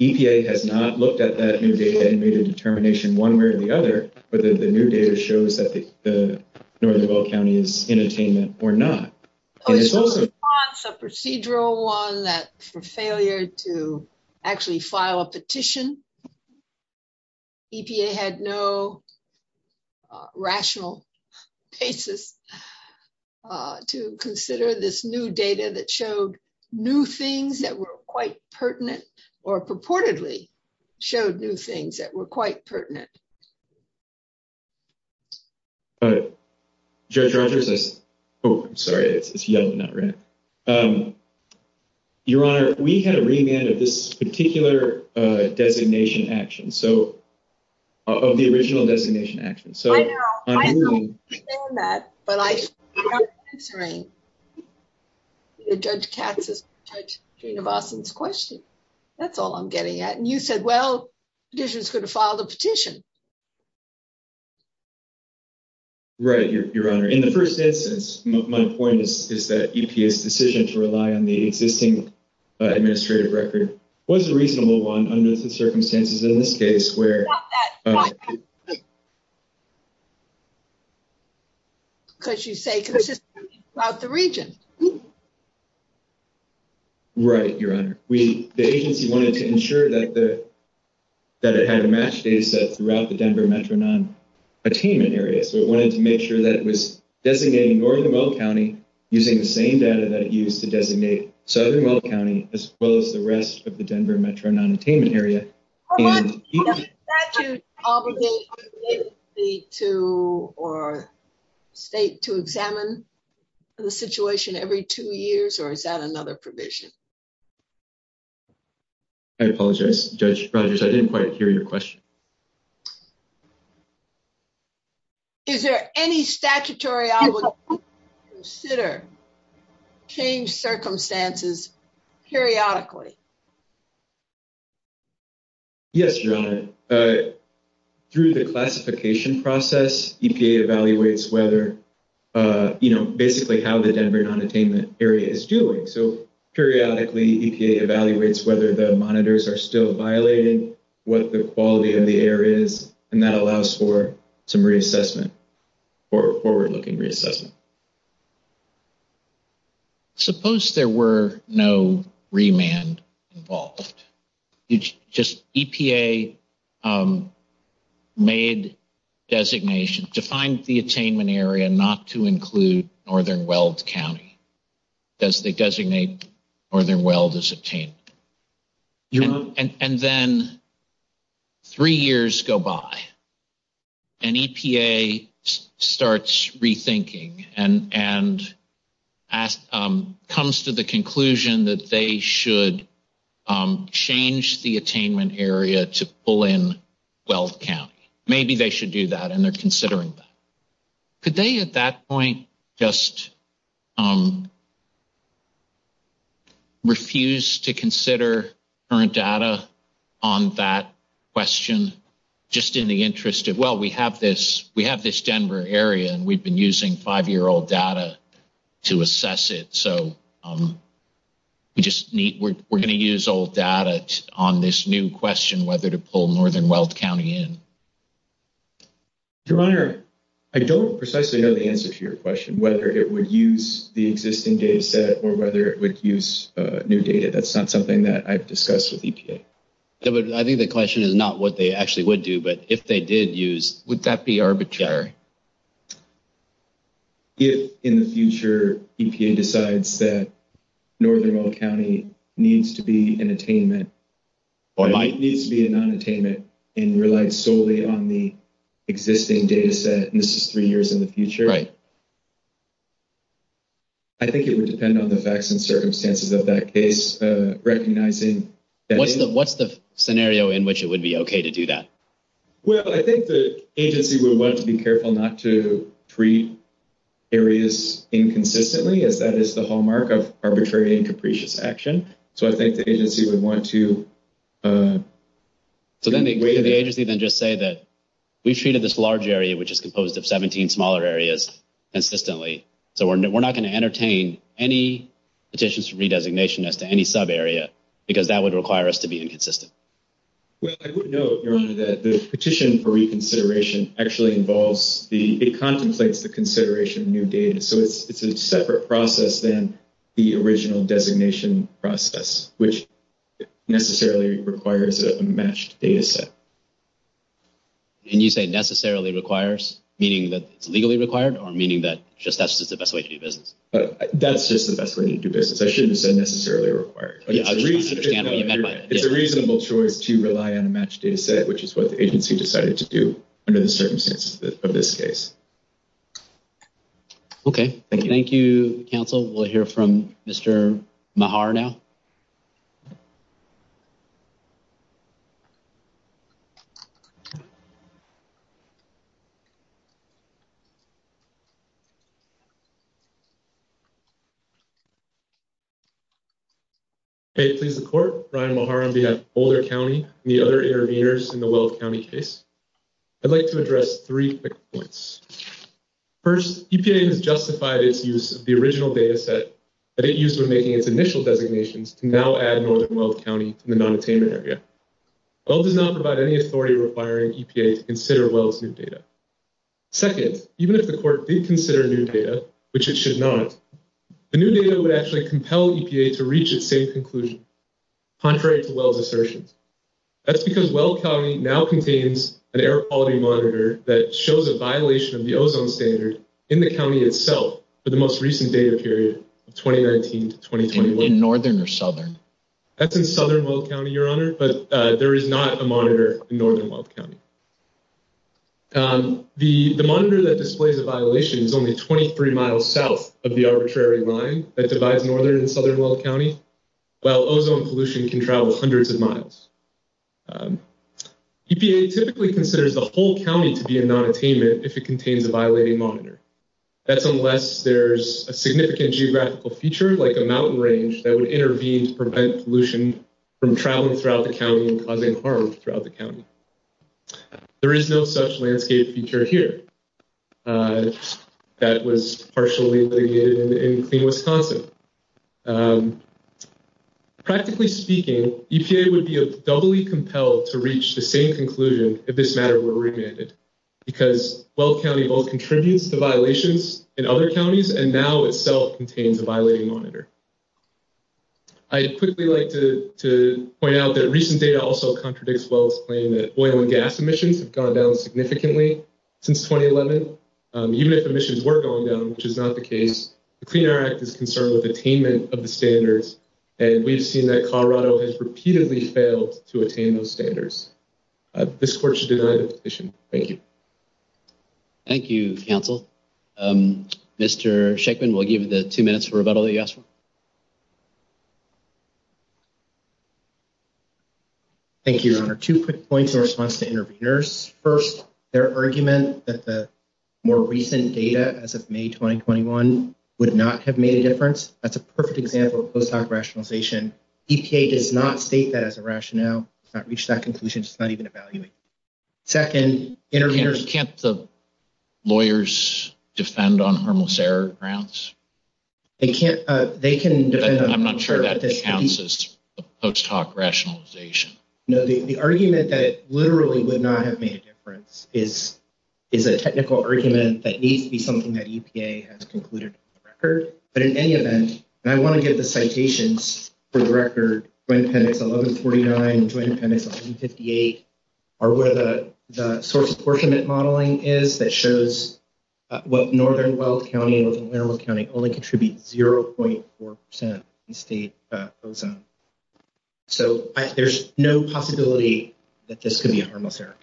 EPA has not looked at that new data and made a determination one way or the other, whether the new data shows that the Northern Will County is in attainment or not. It's a procedural one, that for failure to actually file a petition, EPA had no rational basis to consider this new data that showed new things that were quite pertinent or purportedly showed new things that were quite pertinent. All right. Judge Rogers says... Oh, I'm sorry, it's yellow, not red. Your Honor, we had a remand of this particular designation action, so of the original designation action. I know, I know, I understand that, but I'm not answering Judge Katz's question. That's all I'm getting at. And you said, well, this is going to file the petition. Right, Your Honor. In the first instance, my point is that EPA's decision to rely on the existing administrative record was a reasonable one under some circumstances. In this case, where... Stop that, stop that. Because you say, because it's about the region. Right, Your Honor. that it had a match data set for each of the states, throughout the Denver metro non-attainment area. So it wanted to make sure that it was designating Northern Weld County using the same data that it used to designate Southern Weld County as well as the rest of the Denver metro non-attainment area. Oh, that is obligated to state to examine the situation every two years, or is that another provision? I apologize, Judge Rogers. I didn't quite hear your question. Is there any statutory I would consider change circumstances periodically? Yes, Your Honor. Through the classification process, EPA evaluates whether, you know, basically how the Denver non-attainment area is doing. So periodically, EPA evaluates whether the monitors are still violated, what the quality of the air is, and that allows for some reassessment, forward-looking reassessment. Suppose there were no remand involved. Just EPA made designations to find the attainment area not to include Northern Weld County as they designate Northern Weld as attainment. You know, and then three years go by, and EPA starts rethinking and comes to the conclusion that they should change the attainment area to pull in Weld County. Maybe they should do that, and they're considering that. Could they, at that point, just refuse to consider current data on that question, just in the interest of, well, we have this Denver area, and we've been using five-year-old data to assess it. So we're going to use old data on this new question, whether to pull Northern Weld County in. Dr. Meyer, I don't precisely know the answer to your question, whether it would use the existing data set or whether it would use new data. That's not something that I've discussed with EPA. Yeah, but I think the question is not what they actually would do, but if they did use, would that be arbitrary? If, in the future, EPA decides that Northern Weld County needs to be in attainment, or it needs to be in non-attainment and relies solely on the existing data set, and this is three years in the future. Right. I think it would depend on the facts and circumstances of that case, recognizing that... What's the scenario in which it would be okay to do that? Well, I think the agency would want to be careful not to treat areas inconsistently, as that is the hallmark of arbitrary and capricious action. So I think the agency would want to... So then the greater the agency, then just say that we treated this large area, which is composed of 17 smaller areas, consistently. So we're not going to entertain any petitions for re-designation as to any sub-area, because that would require us to be inconsistent. Well, I would note, Aaron, that the petition for reconsideration actually involves the... It contemplates the consideration of new data. So it's a separate process than the original designation process, which necessarily requires a matched data set. Can you say necessarily requires, meaning that it's legally required, or meaning that just that's the best way to do business? That's just the best way to do business. I shouldn't say necessarily required. It's a reasonable choice to rely on a matched data set, which is what the agency decided to do under the circumstances of this case. Okay. Thank you, counsel. We'll hear from Mr. Mehar now. Okay. Okay. Please report. Ryan Mehar on behalf of Boulder County and the other intervenors in the Weld County case. I'd like to address three quick points. First, EPA has justified its use of the original data set that it used for making its initial designations to now add more to Weld County in the non-attainment area. Weld does not provide any authority requiring EPA to consider Weld's new data. Second, even if the court did consider new data, which it should not, the new data would actually compel EPA to reach its safe conclusion, contrary to Weld's assertion. That's because Weld County now contains an air quality monitor that shows a violation of the ozone standard in the county itself for the most recent data period, 2019 to 2021. In northern or southern? That's in southern Weld County, Your Honor, but there is not a monitor in northern Weld County. The monitor that displays the violation is only 23 miles south of the arbitrary line that divides northern and southern Weld County, while ozone pollution can travel hundreds of miles. EPA typically considers a whole county to be a non-attainment if it contains a violating monitor. That's unless there's a significant geographical feature like a mountain range that would intervene to prevent pollution from traveling throughout the county and causing harm throughout the county. There is no such landscape feature here that was partially litigated in clean Wisconsin. Practically speaking, EPA would be doubly compelled to reach the same conclusion if this matter were remanded because Weld County both contributes to violations in other counties and now itself contains a violating monitor. I'd quickly like to point out that recent data also contradicts Weld's claim that oil and gas emissions have gone down significantly since 2011. Even if emissions were going down, which is not the case, the Clean Air Act is concerned with attainment of the standards, and we've seen that Colorado This court should deny this position. Thank you. Thank you, counsel. Um, Mr. Shekman, we'll give you the two minutes for rebuttal. Thank you, your honor. Two quick points in response to interviewers. First, their argument that the more recent data as of May 2021 would not have made a difference. That's a perfect example of post-hoc rationalization. EPA does not state that as a rationale. It's not reached that conclusion. It's not even evaluated. Second, interviewers... Can't the lawyers defend on harmless air grounds? They can't. They can defend... I'm not sure that counts as post-hoc rationalization. No, the argument that it literally would not have made a difference is a technical argument that needs to be something that EPA has concluded in the record. But in any event, and I want to get the citations for the record, Joint Appendix 1149, the Joint Appendix 158 are where the source of poor commitment modeling is that shows what northern Weld County and what's in inner Weld County only contribute 0.4% in state frozen. So there's no possibility that this could be a harmless air.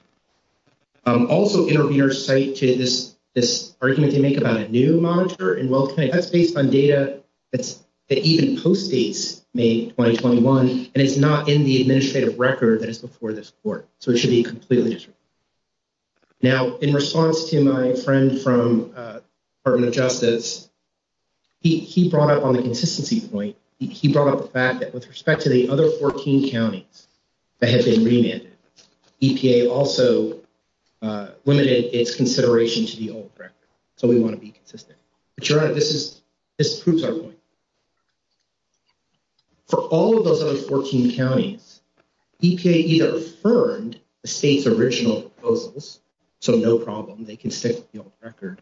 Also, interviewers cite to this argument they make about a new monitor in Weld County. That's based on data that even post-date May 2021, and it's not in the administrative record that it's before this court. So it should be completely... Now, in response to my friend from Department of Justice, he brought up on the consistency point. He brought up the fact that with respect to the other 14 counties that have been remanded, EPA also limited its consideration to the old record. So we want to be consistent. But Your Honor, this proves our point. For all of those other 14 counties, EPA either affirmed the state's original proposals, so no problem, they can stick with the old record,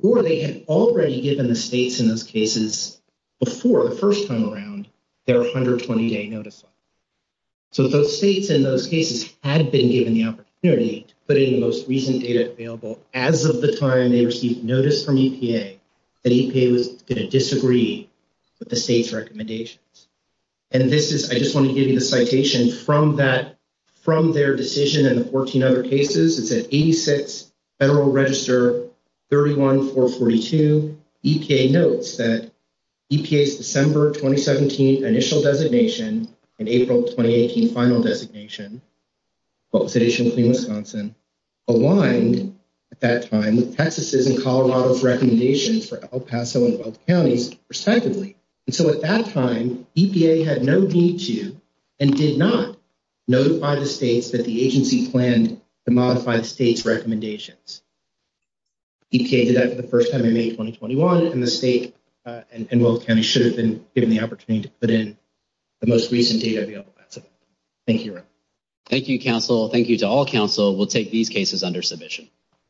or they had already given the states in those cases before, the first time around, their 120-day notice. So those states in those cases had been given the opportunity to put in the most recent data available as of the time they received notice from EPA that EPA was going to disagree with the state's recommendations. And this is... I just want to give you the citation from that, from their decision and 14 other cases, is that 86 Federal Register 31442, EPA notes that EPA's December 2017 initial designation and April 2018 final designation, both states including Wisconsin, aligned at that time with Texas' and Colorado's recommendations for El Paso and both counties reciprocally. And so at that time, EPA had no need to, and did not notify the states that the agency planned to modify the state's recommendations. EPA did that for the first time in May 2021, and the state and both counties should have been given the opportunity to put in the most recent data available. Thank you, Your Honor. Thank you, counsel. Thank you to all counsel. We'll take these cases under submission.